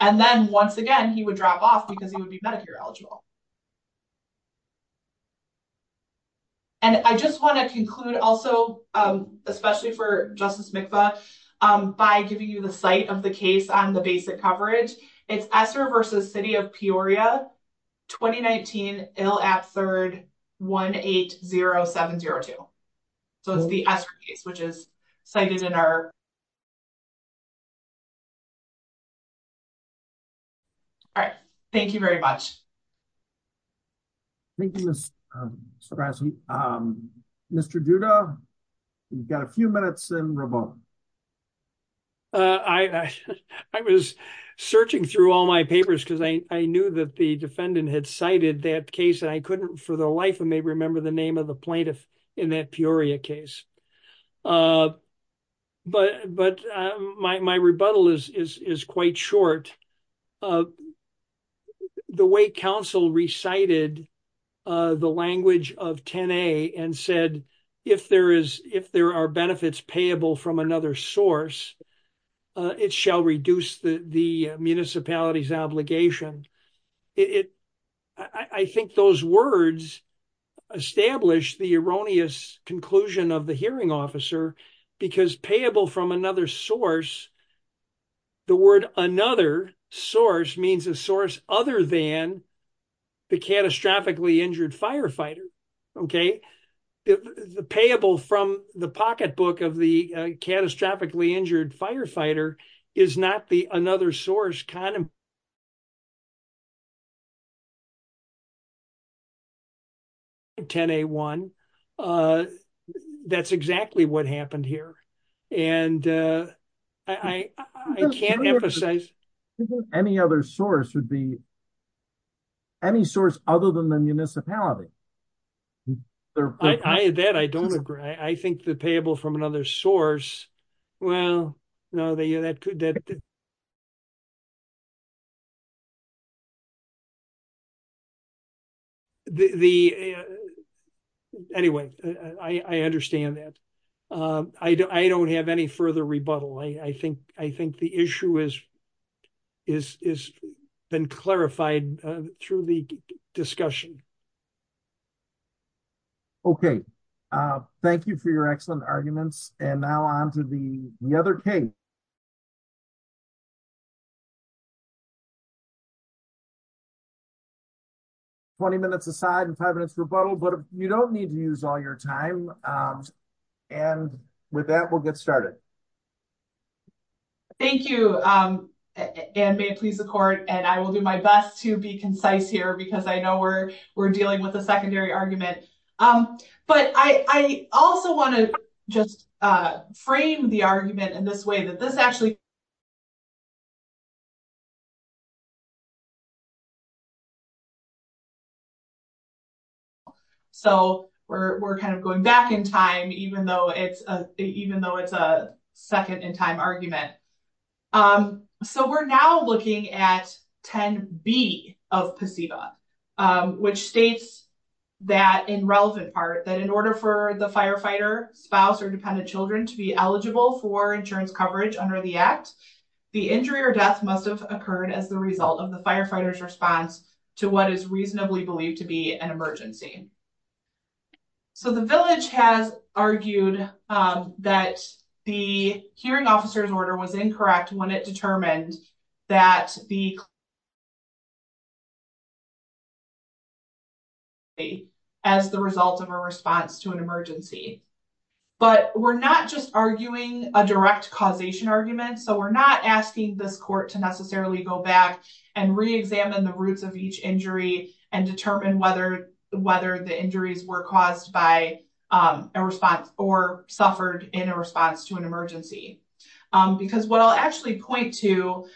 And then once again, he would drop off because he would be eligible. And I just wanted to include also, especially for just by giving you the site of the case on the basic coverage. It's after versus city of Peoria. 2019 ill at 3rd. 180702, which is cited in our. All right, thank you very much. Thank you. Mr. we've got a few minutes. I was searching through all my papers because I knew that the defendant had cited that case and I couldn't for the life and they remember the name of the plaintiff in that Peoria case. So, I'm not going to go into that. But, but my, my rebuttal is, is, is quite short. The way council recited the language of 10 a and said, if there is, if there are benefits payable from another source. It shall reduce the municipalities obligation. I think those words establish the erroneous conclusion of the hearing officer because payable from another source. The word another source means a source other than. The catastrophically injured firefighter. Okay, the payable from the pocketbook of the catastrophically injured firefighter is not the another source. It's kind of. 10 a1. That's exactly what happened here. And I can't emphasize any other source would be any source, other than the municipality. I, that I don't agree. I think the payable from another source. Well, no, that could that. The anyway, I understand that. I don't have any further rebuttal. I think I think the issue is. It's been clarified through the discussion. Okay, thank you for your excellent arguments and now on to the other case. 20 minutes aside and 5 minutes rebuttal, but you don't need to use all your time. And with that, we'll get started. Thank you and may please the court and I will do my best to be concise here because I know we're, we're dealing with a secondary argument. But I also want to just frame the argument in this way that this actually. So, we're, we're kind of going back in time, even though it's a, even though it's a second in time argument. So, we're now looking at 10 B of. Which states that in relevant part that in order for the firefighter spouse or dependent children to be eligible for insurance coverage under the act. The injury or death must have occurred as the result of the firefighters response to what is reasonably believed to be an emergency. So, the village has argued that the hearing officers order was incorrect when it determined. That the as the result of a response to an emergency. But we're not just arguing a direct causation argument, so we're not asking the court to necessarily go back and re, examine the roots of each injury and determine whether whether the injuries were caused by a response or suffered in a response to an emergency. Because what I'll actually point to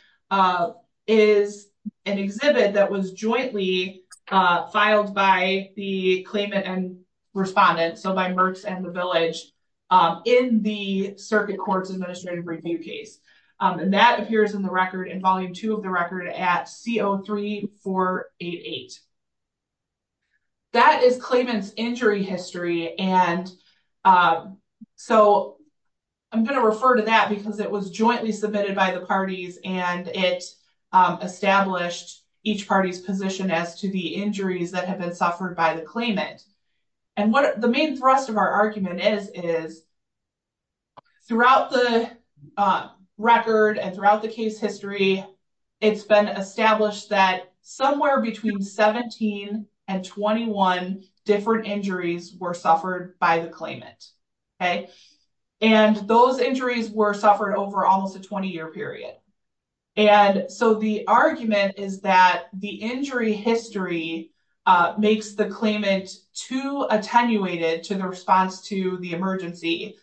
is an exhibit that was jointly filed by the claimant and respondent. So, by Mertz and the village in the circuit court's administrative review case, and that appears in the record in volume 2 of the record at C03488. That is claiming injury history and so. I'm going to refer to that because it was jointly submitted by the parties and it's established each party's position as to the injuries that have been suffered by the claimant. And what the main thrust of our argument is, is. Throughout the record and throughout the case history. It's been established that somewhere between 17 and 21 different injuries were suffered by the claimant. Okay, and those injuries were suffered over almost a 20 year period. And so the argument is that the injury history makes the claimant to attenuated to the response to the emergency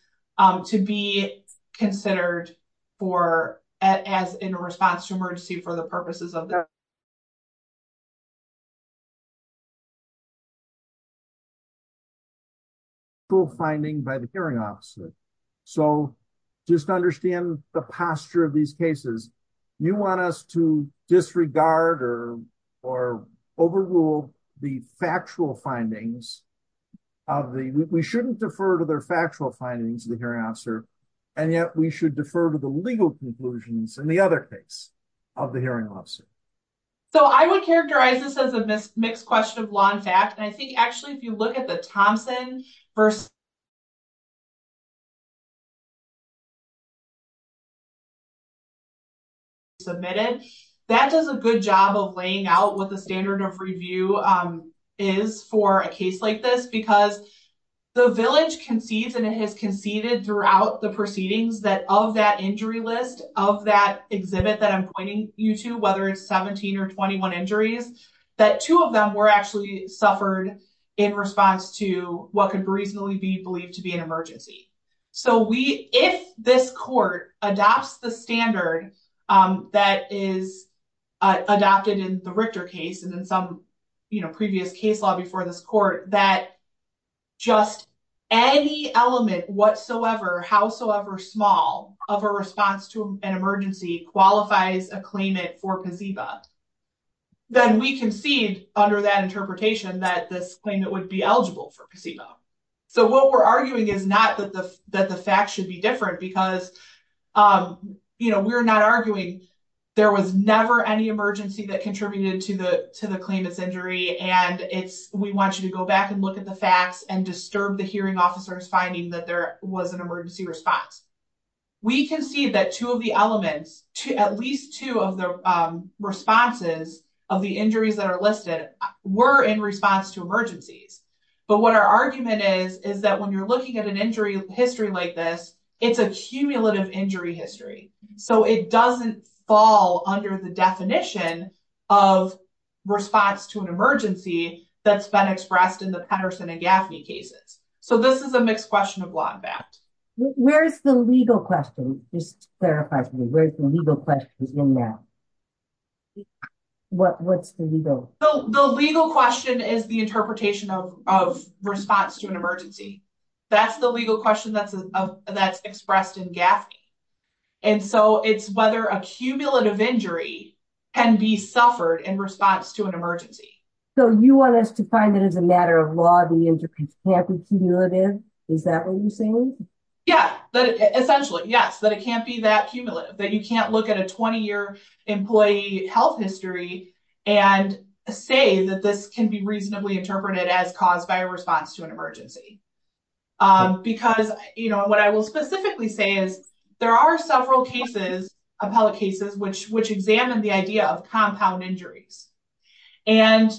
to be considered for as in a response to emergency for the purposes of. Okay. Cool finding by the hearing officer. So, just understand the posture of these cases. You want us to disregard or, or overrule the factual findings. Of the, we shouldn't defer to their factual findings with your answer. And yet we should defer to the legal conclusions and the other things. Of the hearing. So, I would characterize this as a mixed question of law and fact. And I think actually, if you look at the Thompson 1st. Submitted that does a good job of laying out what the standard of review is for a case like this because. The village can see that it has conceded throughout the proceedings that of that injury list of that exhibit that I'm pointing you to, whether it's 17 or 21 injuries that 2 of them were actually suffered. In response to what could reasonably be believed to be an emergency. So, we, if this court adopts the standard that is. Adopted in the Richter case, and then some previous case law before the court that. Just any element whatsoever. Howsoever small of a response to an emergency qualifies a claimant for. Then we can see under that interpretation that this thing that would be eligible for. So, what we're arguing is not that the fact should be different because. You know, we're not arguing. There was never any emergency that contributed to the, to the claim of injury and it's, we want you to go back and look at the facts and disturb the hearing officers finding that there was an emergency response. We can see that 2 of the elements to at least 2 of the responses of the injuries that are listed were in response to emergencies. But what our argument is, is that when you're looking at an injury history like this, it's a cumulative injury history. So it doesn't fall under the definition of response to an emergency that's been expressed in the Patterson and Gaffney cases. So, this is a mixed question of law. Where's the legal question? Just clarify where's the legal question in that? What's the legal question is the interpretation of response to an emergency. That's the legal question that's expressed in gap. And so it's whether a cumulative injury can be suffered in response to an emergency. So, you want us to find it as a matter of law. Is that what you're saying? Yes, but essentially, yes, but it can't be that cumulative, but you can't look at a 20 year employee health history and say that this can be reasonably interpreted as caused by a response to an emergency. Because what I will specifically say is there are several cases, appellate cases, which, which examine the idea of compound injury. And,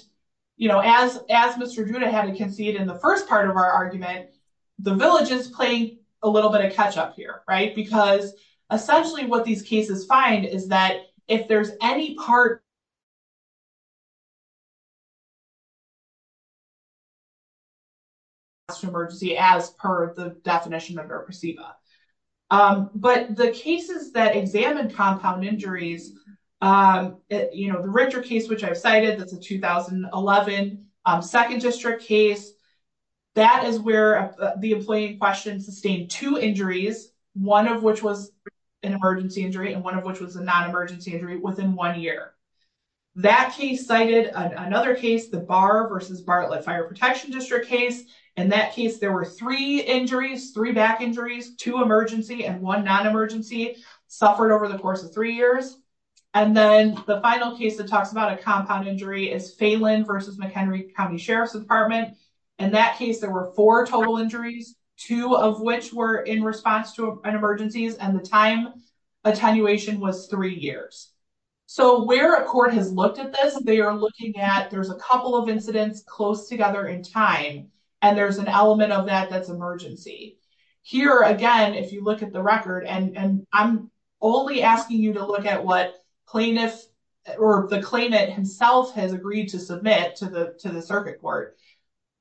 you know, as, as Mr. June, I haven't can see it in the first part of our argument. The villages playing a little bit of catch up here, right? Because essentially what these cases find is that if there's any part. Emergency as per the definition of our. But the cases that examine compound injuries, you know, the richer case, which I've cited the 2011 2nd district case. That is where the employee question sustained 2 injuries. 1 of which was an emergency injury and 1 of which was a non emergency injury within 1 year. That he cited another case, the bar versus Bartlett fire protection district case, and that case, there were 3 injuries, 3 back injuries, 2 emergency and 1 non emergency suffered over the course of 3 years. And then the final case to talk about a compound injury is failing versus McHenry county sheriff's department. And that case, there were 4 total injuries, 2 of which were in response to emergencies and the time. Attenuation was 3 years. So, where a court has looked at this, they are looking at. There's a couple of incidents close together in time. And there's an element of that. That's emergency here. Again, if you look at the record, and I'm only asking you to look at what clean this. Or the claim that himself has agreed to submit to the circuit court.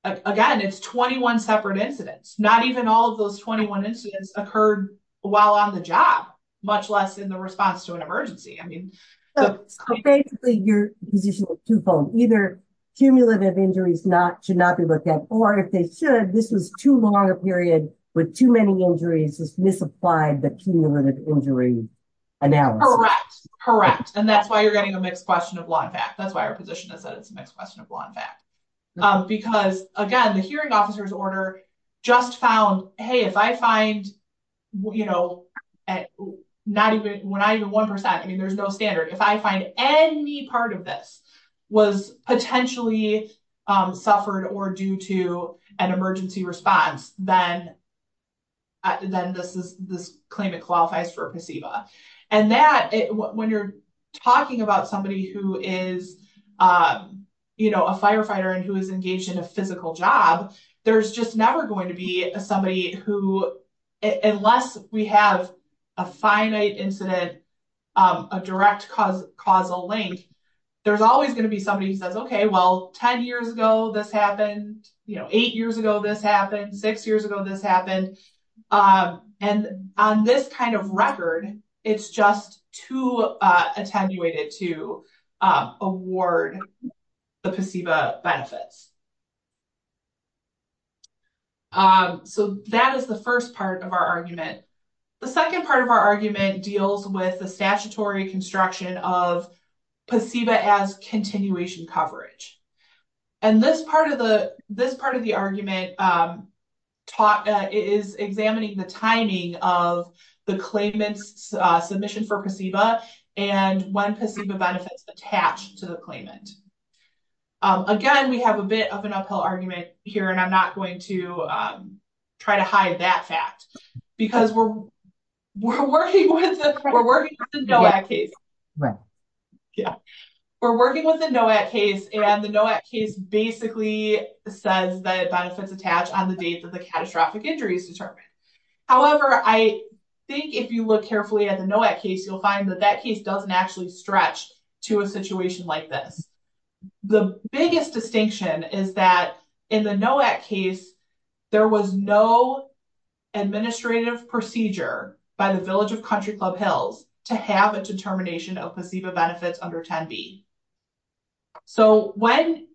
Again, it's 21 separate incidents, not even all of those 21 incidents occurred while on the job, much less in the response to an emergency. I mean, so basically you're either. Injuries not should not be looked at, or if they should, this is too long a period with too many injuries, just misapplied the cumulative injury. Correct correct and that's why you're getting a question of 1 fact. That's why our position is the next question of 1 fact. Because again, the hearing officers order just found, hey, if I find. You know, not even when I, the 1%, I mean, there's no standard. If I find any part of this was potentially suffered or due to an emergency response, then. At the end of the claim, it qualifies for. And that when you're talking about somebody who is. You know, a firefighter and who is engaged in a physical job, there's just never going to be somebody who, unless we have a finite incident. A direct cause causal link. There's always going to be somebody says, okay, well, 10 years ago, this happened 8 years ago. This happened 6 years ago. This happened. And on this kind of record, it's just too attenuated to award. The benefits, so that is the 1st part of our argument. The 2nd, part of our argument deals with the statutory construction of. Continuation coverage, and this part of the, this part of the argument. Talk that is examining the timing of the claimants submission for and when it's attached to the claimant. Again, we have a bit of an uphill argument here, and I'm not going to. Try to hide that fact, because we're. Yeah, we're working with the case and the basically says that it's attached on the base of the catastrophic injuries. However, I think if you look carefully at the case, you'll find that that case doesn't actually stretch to a situation like that. The biggest distinction is that in the case. There was no administrative procedure by the village of country club hills to have a determination of placebo benefits under 10 B. So, when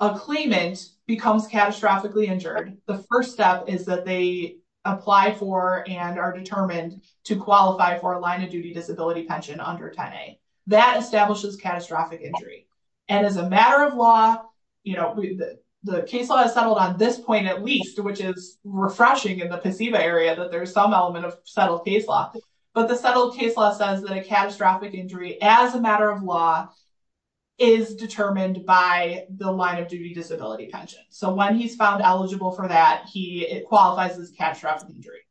a claimant becomes catastrophically injured, the 1st step is that they apply for and are determined to qualify for a line of duty disability pension under 10 a. That establishes catastrophic injury and as a matter of law, you know, the case settled on this point at least, which is refreshing in the area that there's some element of settled case law. But the settled case law says that a catastrophic injury as a matter of law. Is determined by the line of duty disability pension. So when he's found eligible for that, he qualifies as catastrophic injury.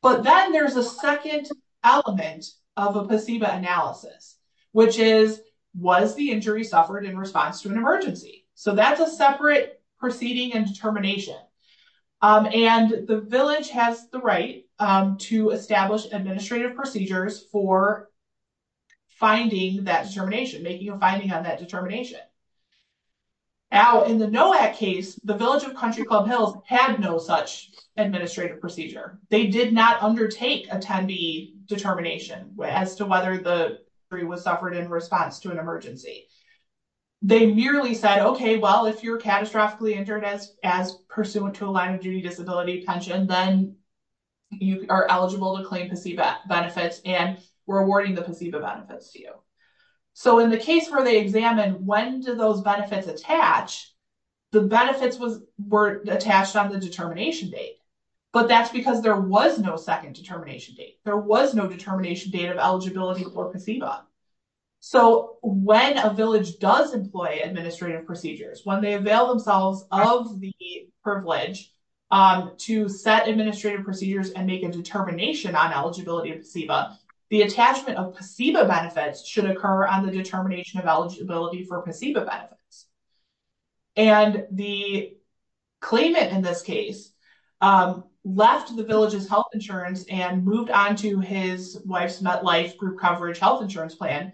But then there's a 2nd element of a placebo analysis, which is what is the injury suffered in response to an emergency? So that's a separate proceeding and determination. And the village has the right to establish administrative procedures for. Finding that determination, making a finding on that determination. Now, in the case, the village of country club hills has no such administrative procedure. They did not undertake attendee determination as to whether the 3 was suffered in response to an emergency. They merely said, okay, well, if you're catastrophically Internet as pursuant to a line of duty disability pension, then. You are eligible to claim benefits and we're awarding the benefits to you. So, in the case where they examine, when did those benefits attach? The benefits were attached on the determination date, but that's because there was no 2nd determination date. There was no determination date of eligibility or. So, when a village does employ administrative procedures, when they avail themselves of the privilege to set administrative procedures and make a determination on eligibility. The attachment of benefits should occur on the determination of eligibility for. And the claimant in this case left the villages health insurance and moved on to his wife's not like group coverage health insurance plan.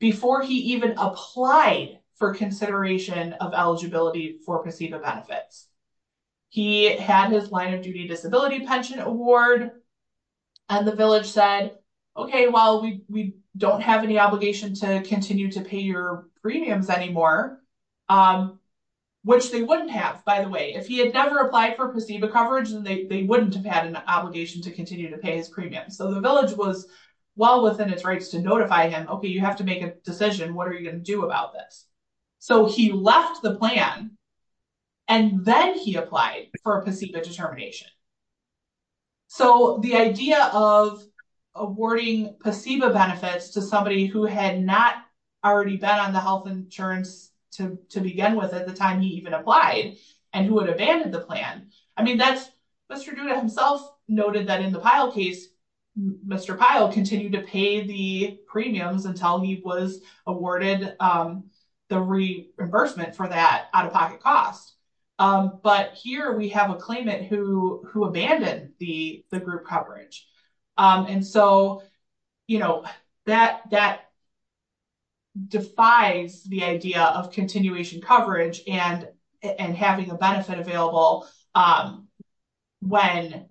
Before he even applied for consideration of eligibility for. He had his line of duty disability pension award. And the village said, okay, well, we don't have any obligation to continue to pay your premiums anymore. Which they wouldn't have, by the way, if he had never applied for the coverage, and they wouldn't have had an obligation to continue to pay his premium. So, the village was well, within its rights to notify him. Okay, you have to make a decision. What are you going to do about this? So, he left the plan and then he applied for determination. So, the idea of awarding benefits to somebody who had not already been on the health insurance. To begin with, at the time, he even applies and who would have been in the plan. I mean, that's. Noted that in the pilot case, Mr. Kyle continue to pay the premiums until he was awarded the reimbursement for that out of pocket costs. But here we have a claimant who who abandoned the group coverage and so. You know, that that defies the idea of continuation coverage and and having a benefit available. When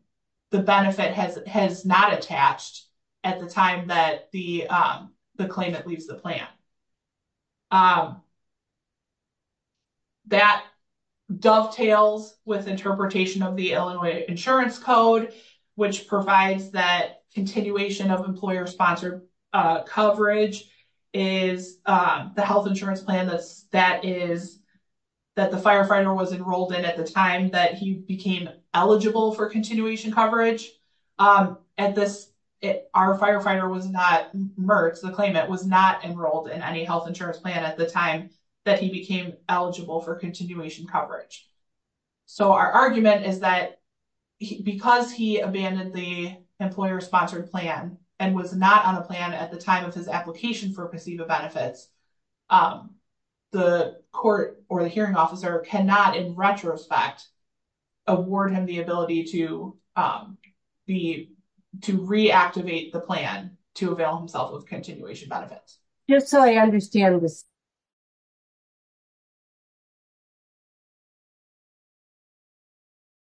the benefit has has not attached. At the time that the, the claim, at least the plan. That dovetails with interpretation of the Illinois insurance code, which provides that continuation of employer sponsored coverage. Is the health insurance plan that that is. That the firefighter was enrolled in at the time that he became eligible for continuation coverage. Um, and this, our firefighter was not the claim. It was not enrolled in any health insurance plan at the time. That he became eligible for continuation coverage. So, our argument is that because he abandoned the employer sponsored plan and was not on a plan at the time of his application for conceivable benefits. The court or the hearing officer cannot in retrospect. Award and the ability to be to reactivate the plan to avail themselves with continuation benefits. Just how I understand.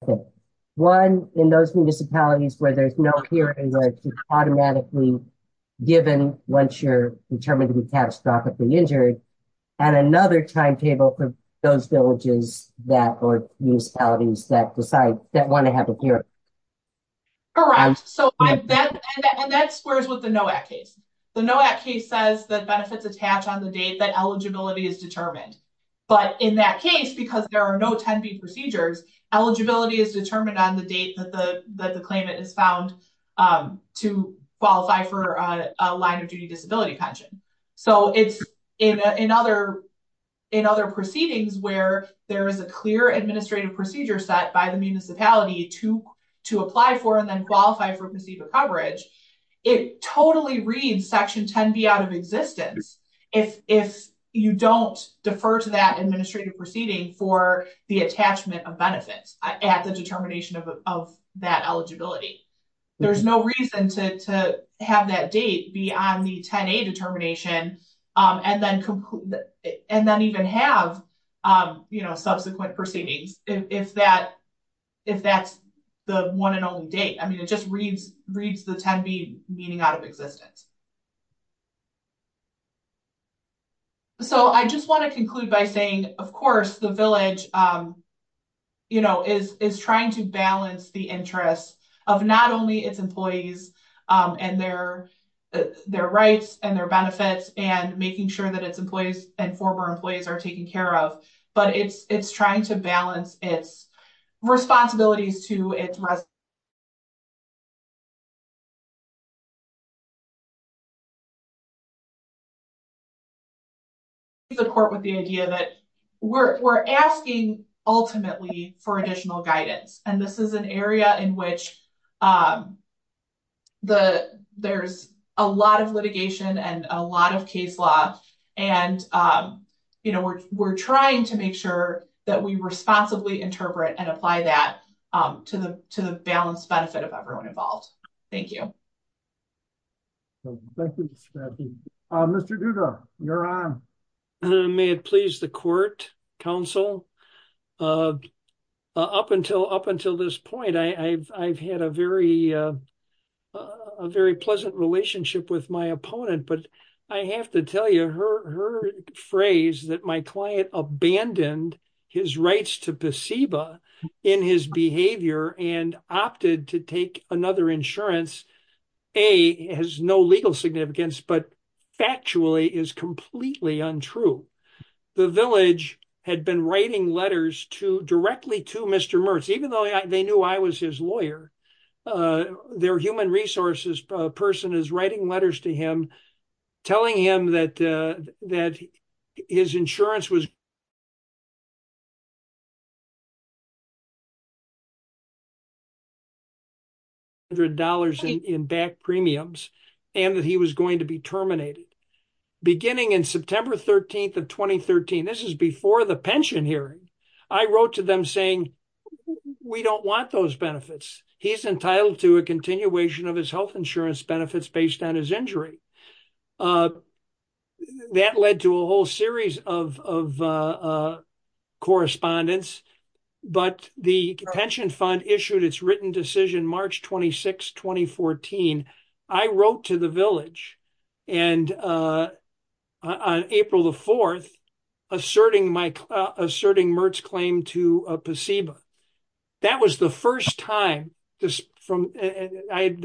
Okay, 1 in those municipalities where there's no hearing automatically. Given once you're determined to have stock of the injury. And another timetable for those villages that are used that decide that want to have it here. Correct so, and that squares with the no act case. The no act case says the benefits attached on the date that eligibility is determined. But in that case, because there are no procedures eligibility is determined on the date that the, that the claimant is found to qualify for a line of duty disability pension. So, it's in other in other proceedings where there is a clear administrative procedure set by the municipality to to apply for and then qualify for coverage. It totally reads section 10 be out of existence. If you don't defer to that administrative proceeding for the attachment of benefits at the determination of that eligibility. There's no reason to have that date be on the determination and then and then even have subsequent proceedings. If that if that's the 1 and only date, I mean, it just reads reads the 10 meeting out of existence. So, I just want to conclude by saying, of course, the village. You know, is is trying to balance the interest of not only its employees and their. Their rights and their benefits and making sure that it's employees and former employees are taken care of, but it's, it's trying to balance it. Responsibilities to it. The corporate, the idea that we're, we're asking ultimately for additional guidance, and this is an area in which. The, there's a lot of litigation and a lot of case law. And, you know, we're, we're trying to make sure that we responsibly interpret and apply that to the, to the balance benefit of everyone involved. Thank you. Thank you. Mr. Duda, you're on. May it please the court counsel up until up until this point. I, I've, I've had a very. A very pleasant relationship with my opponent, but I have to tell you her phrase that my client abandoned his rights to in his behavior and opted to take another insurance. A has no legal significance, but actually is completely untrue. The village had been writing letters to directly to Mr. Murphy, even though they knew I was his lawyer, their human resources person is writing letters to him, telling him that that his insurance was. There are dollars in premiums and that he was going to be terminated beginning in September 13th of 2013. This is before the pension hearing. I wrote to them saying, we don't want those benefits. He's entitled to a continuation of his health insurance benefits based on his injury. That led to a whole series of correspondence, but the pension fund issued it's written decision, March 26, 2014. I wrote to the village. And on April the 4th. Asserting my asserting Merck's claim to a placebo. That was the first time this from there had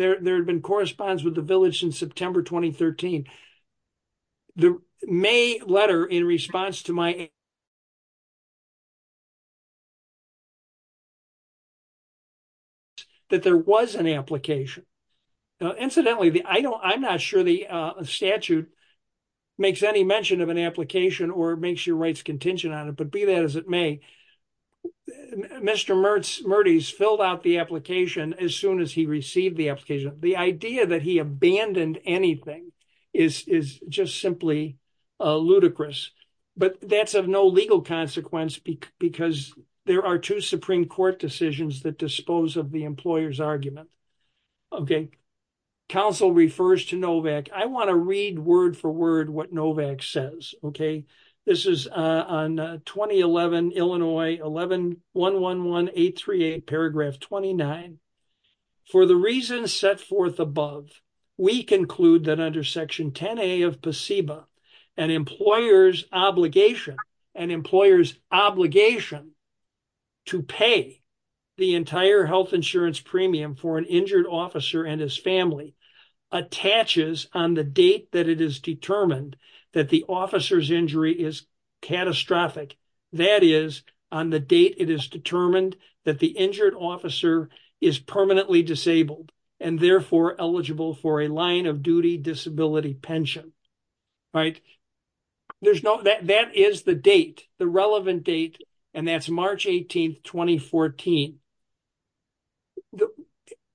been correspondence with the village in September 2013. The May letter in response to my. That there was an application. Incidentally, the I don't I'm not sure the statute. Makes any mention of an application or makes your rights contingent on it, but be that as it may. Mr. Mertz Mertz filled out the application as soon as he received the application. The idea that he abandoned anything is just simply. Ludicrous, but that's of no legal consequence because there are 2 Supreme Court decisions that dispose of the employer's argument. Okay. Council refers to Novak. I want to read word for word what Novak says. Okay. This is on 2011, Illinois 11111838 paragraph 29. For the reason set forth above, we conclude that under section 10 of placebo and employers obligation and employers obligation. To pay the entire health insurance premium for an injured officer and his family attaches on the date that it is determined that the officer's injury is catastrophic. That is on the date. It is determined that the injured officer is permanently disabled and therefore eligible for a line of duty disability pension. Right. There's no that that is the date the relevant date and that's March 18, 2014.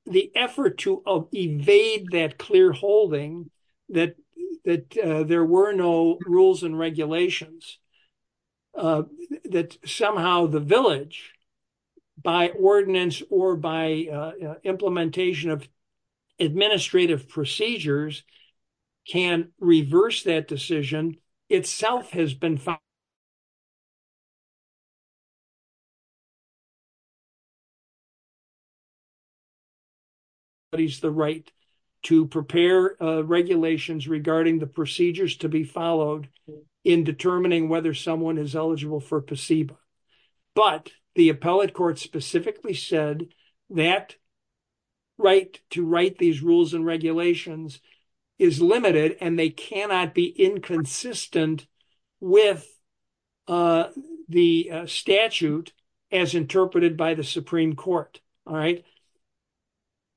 The effort to evade that clear holding that that there were no rules and regulations. That somehow the village by ordinance or by implementation of administrative procedures can reverse that decision itself has been. Is the right to prepare regulations regarding the procedures to be followed in determining whether someone is eligible for placebo. But the appellate court specifically said that. Right to write these rules and regulations is limited and they cannot be inconsistent. With the statute as interpreted by the Supreme Court. All right.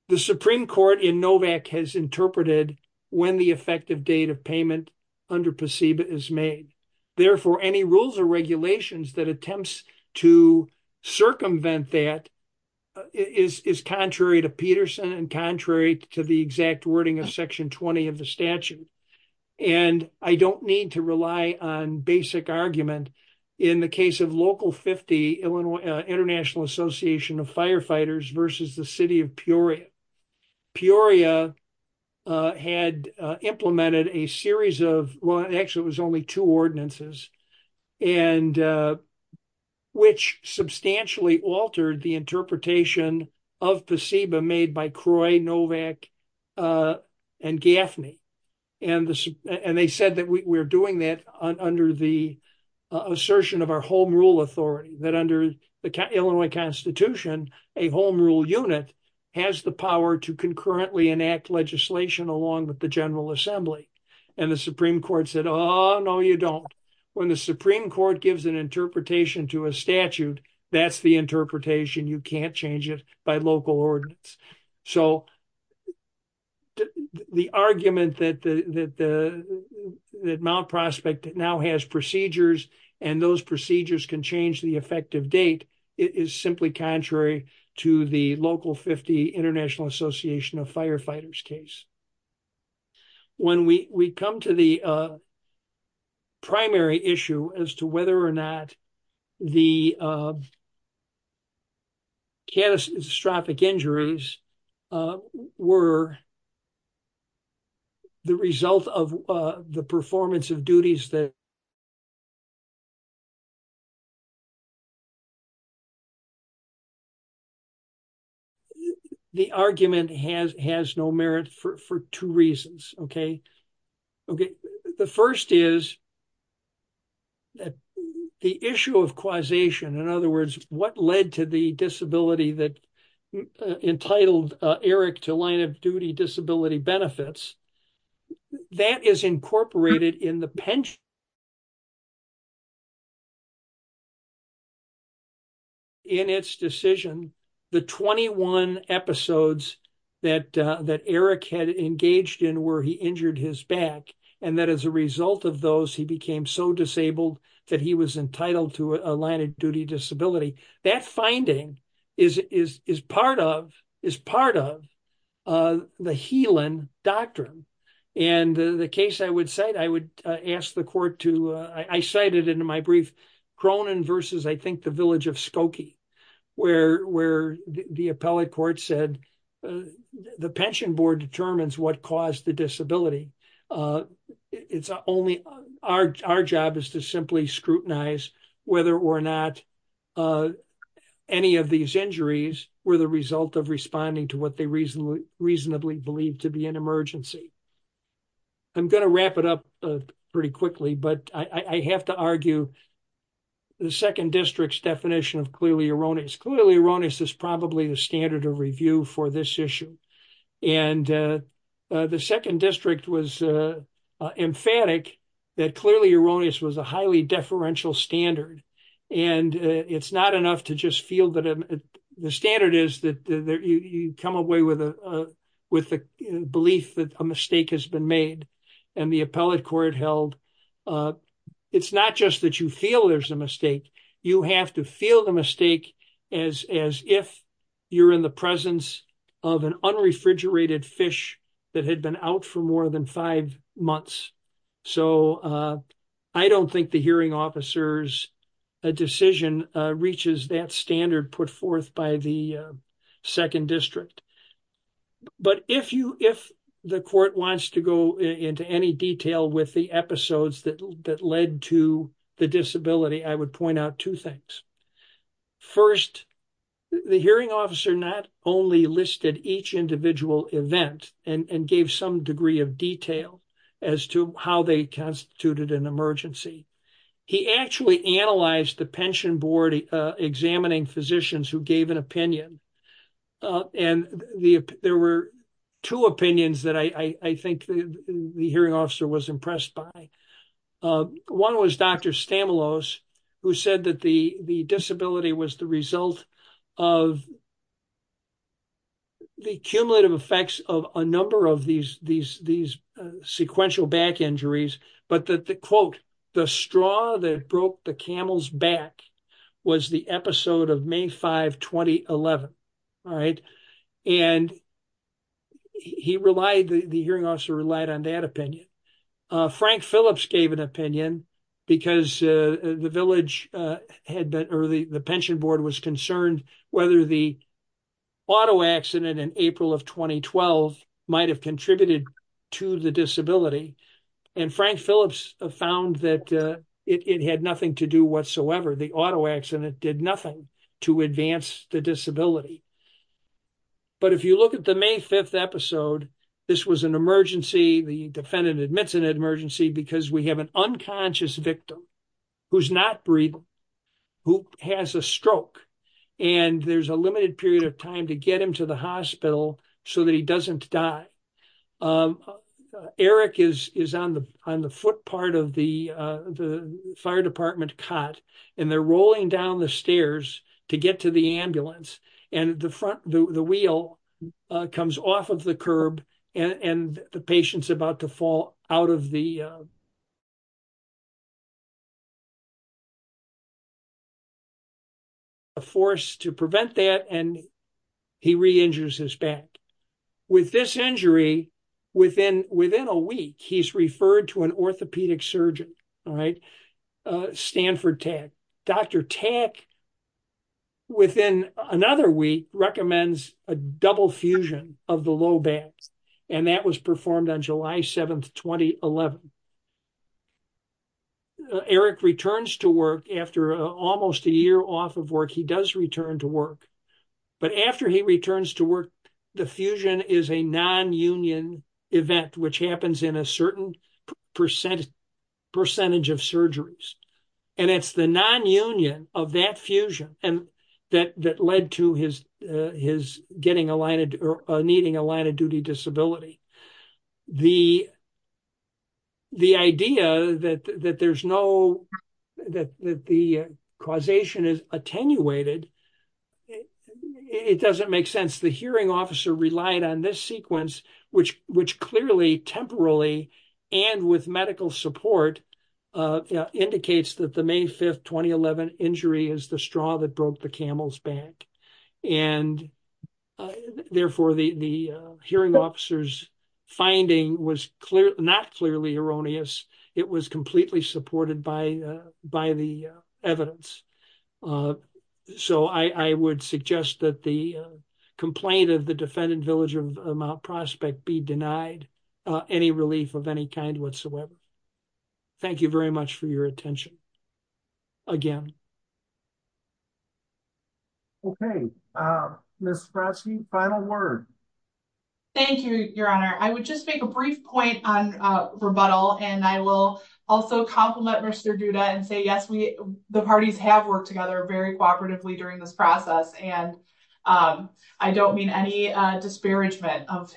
The Supreme Court in Novak has interpreted when the effective date of payment under placebo is made. Therefore, any rules or regulations that attempts to circumvent that is contrary to Peterson and contrary to the exact wording of section 20 of the statute. And I don't need to rely on basic argument in the case of local 50 Illinois International Association of Firefighters versus the city of Peoria. Peoria had implemented a series of one. Actually, it was only two ordinances. And which substantially altered the interpretation of placebo made by Croy, Novak and Gaffney. And they said that we're doing that under the assertion of our home rule authority that under the Illinois Constitution, a home rule unit has the power to concurrently enact legislation along with the General Assembly and the Supreme Court said, oh, no, you don't. When the Supreme Court gives an interpretation to a statute, that's the interpretation. You can't change it by local ordinance. So the argument that Mount Prospect now has procedures and those procedures can change the effective date is simply contrary to the local 50 International Association of Firefighters case. When we come to the primary issue as to whether or not the catastrophic injuries were the result of the performance of duties that The argument has has no merit for two reasons. Okay. Okay. The first is that the issue of causation. In other words, what led to the disability that entitled Eric to line of duty disability benefits. That is incorporated in the pension. In its decision, the 21 episodes that that Eric had engaged in where he injured his back and that as a result of those he became so disabled that he was entitled to a line of duty disability that finding is is is part of is part of The healing doctrine and the case, I would say, I would ask the court to I cited in my brief Cronin versus I think the village of Spokane where where the appellate court said the pension board determines what caused the disability. It's only our job is to simply scrutinize whether or not Any of these injuries were the result of responding to what they reasonably reasonably believed to be an emergency. I'm going to wrap it up pretty quickly, but I have to argue. The second district's definition of clearly erroneous clearly erroneous is probably the standard of review for this issue and The second district was emphatic that clearly erroneous was a highly deferential standard and it's not enough to just feel that the standard is that you come away with a with the belief that a mistake has been made and the appellate court held It's not just that you feel there's a mistake. You have to feel the mistake as as if you're in the presence of an unrefrigerated fish that had been out for more than five months, so I don't think the hearing officers a decision reaches that standard put forth by the second district. But if you if the court wants to go into any detail with the episodes that that led to the disability. I would point out two things. First, the hearing officer not only listed each individual event and gave some degree of detail as to how they constituted an emergency. He actually analyzed the pension board examining physicians who gave an opinion. And there were two opinions that I think the hearing officer was impressed by One was Dr. Stamoulos who said that the the disability was the result of The cumulative effects of a number of these these these sequential back injuries, but that the quote the straw that broke the camel's back was the episode of May 5 2011 right and He relied the hearing officer relied on that opinion. Frank Phillips gave an opinion because the village had been early the pension board was concerned whether the Auto accident in April of 2012 might have contributed to the disability and Frank Phillips found that it had nothing to do whatsoever. The auto accident did nothing to advance the disability. But if you look at the May 5 episode. This was an emergency. The defendant admits an emergency because we have an unconscious victim who's not breathing. Who has a stroke and there's a limited period of time to get him to the hospital so that he doesn't die. Eric is is on the on the foot part of the the fire department cot and they're rolling down the stairs to get to the ambulance and the front the wheel comes off of the curb and the patients about to fall out of the Force to prevent that and he re injures his back with this injury within within a week. He's referred to an orthopedic surgeon right Stanford tech Dr tech. Within another week recommends a double fusion of the low back and that was performed on July 7 2011 Eric returns to work after almost a year off of work. He does return to work. But after he returns to work. The fusion is a non union event which happens in a certain Percentage of surgeries and it's the non union of that fusion and that that led to his his getting a light or needing a light of duty disability, the The idea that there's no that the causation is attenuated It doesn't make sense. The hearing officer relied on this sequence which which clearly temporarily and with medical support indicates that the May 5 2011 injury is the straw that broke the camel's back and Therefore, the, the hearing officers finding was clear not clearly erroneous. It was completely supported by by the evidence. So I would suggest that the complaint of the defendant village of prospect be denied any relief of any kind whatsoever. Thank you very much for your attention. Again. Final word. Thank you, your honor. I would just make a brief point on rebuttal and I will also compliment Mr Judah and say, yes, we, the parties have worked together very cooperatively during this process. And I don't mean any disparagement. And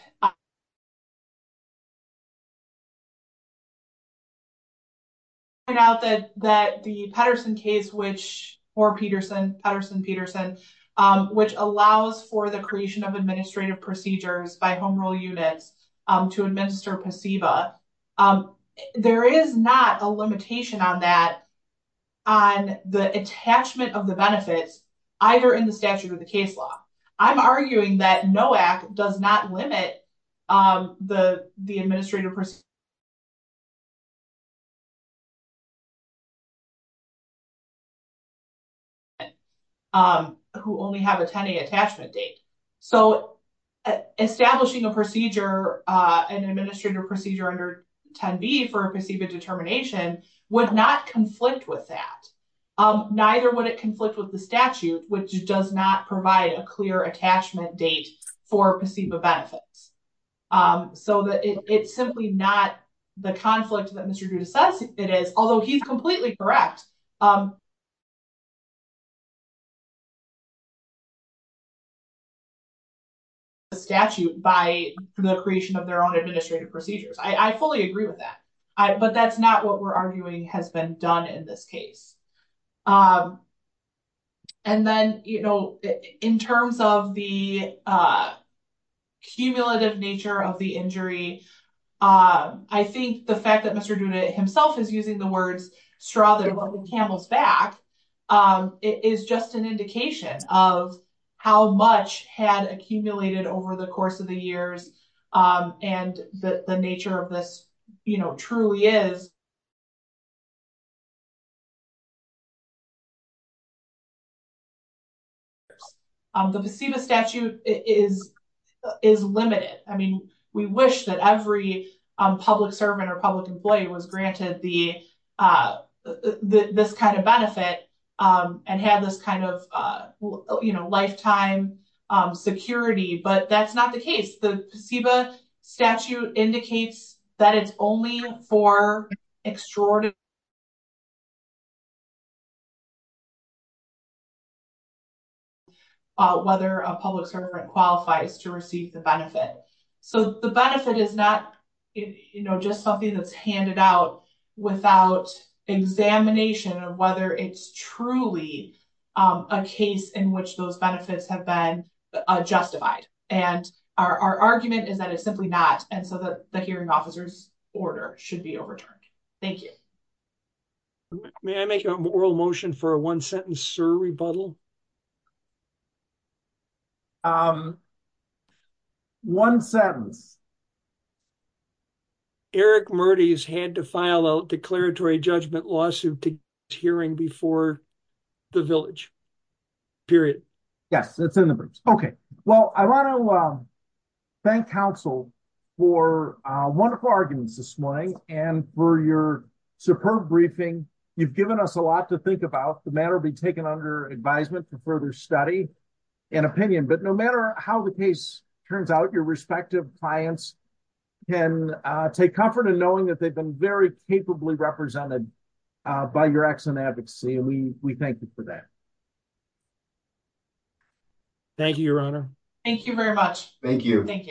now that that the Patterson case, which for Peterson Patterson Peterson, which allows for the creation of administrative procedures by home rule unit to administer placebo. There is not a limitation on that on the attachment of the benefits, either in the statute of the case law. I'm arguing that no act does not do that. Limit the, the administrative. Who only have attending attachment date. So, establishing a procedure, an administrative procedure under 10 B for a placebo determination would not conflict with that. Neither would it conflict with the statute, which does not provide a clear attachment date for placebo benefits. So it's simply not the conflict that Mr. It is, although he's completely correct. Statute by the creation of their own administrative procedures. I fully agree with that. But that's not what we're arguing has been done in this case. And then, you know, in terms of the. Cumulative nature of the injury, I think the fact that Mr Judah himself is using the word straddle back is just an indication of how much had accumulated over the course of the years. And the nature of the truly is. The statute is is limited. I mean, we wish that every public servant or public employee was granted the, this kind of benefit and have this kind of lifetime security. But that's not the case. Statute indicates that it's only for extraordinary. Whether a public servant qualifies to receive the benefit. So, the benefit is not, you know, just something that's handed out without examination of whether it's truly a case in which those benefits have been justified. And our argument is that it's simply not. And so the hearing officers order should be overturned. Thank you. May I make an oral motion for a 1 sentence? Sir? Rebuttal. 1, 7. Eric Marty's had to file a declaratory judgment lawsuit hearing before the village. Period. Yes. Okay. Well, I want to thank counsel for wonderful arguments this morning and for your superb briefing. You've given us a lot to think about the matter being taken under advisement to further study and opinion, but no matter how the case turns out, your respective clients can take comfort in knowing that they've been very capably represented by your excellent advocacy. And we, we thank you for that. Thank you, your honor. Thank you very much. Thank you. Thank you.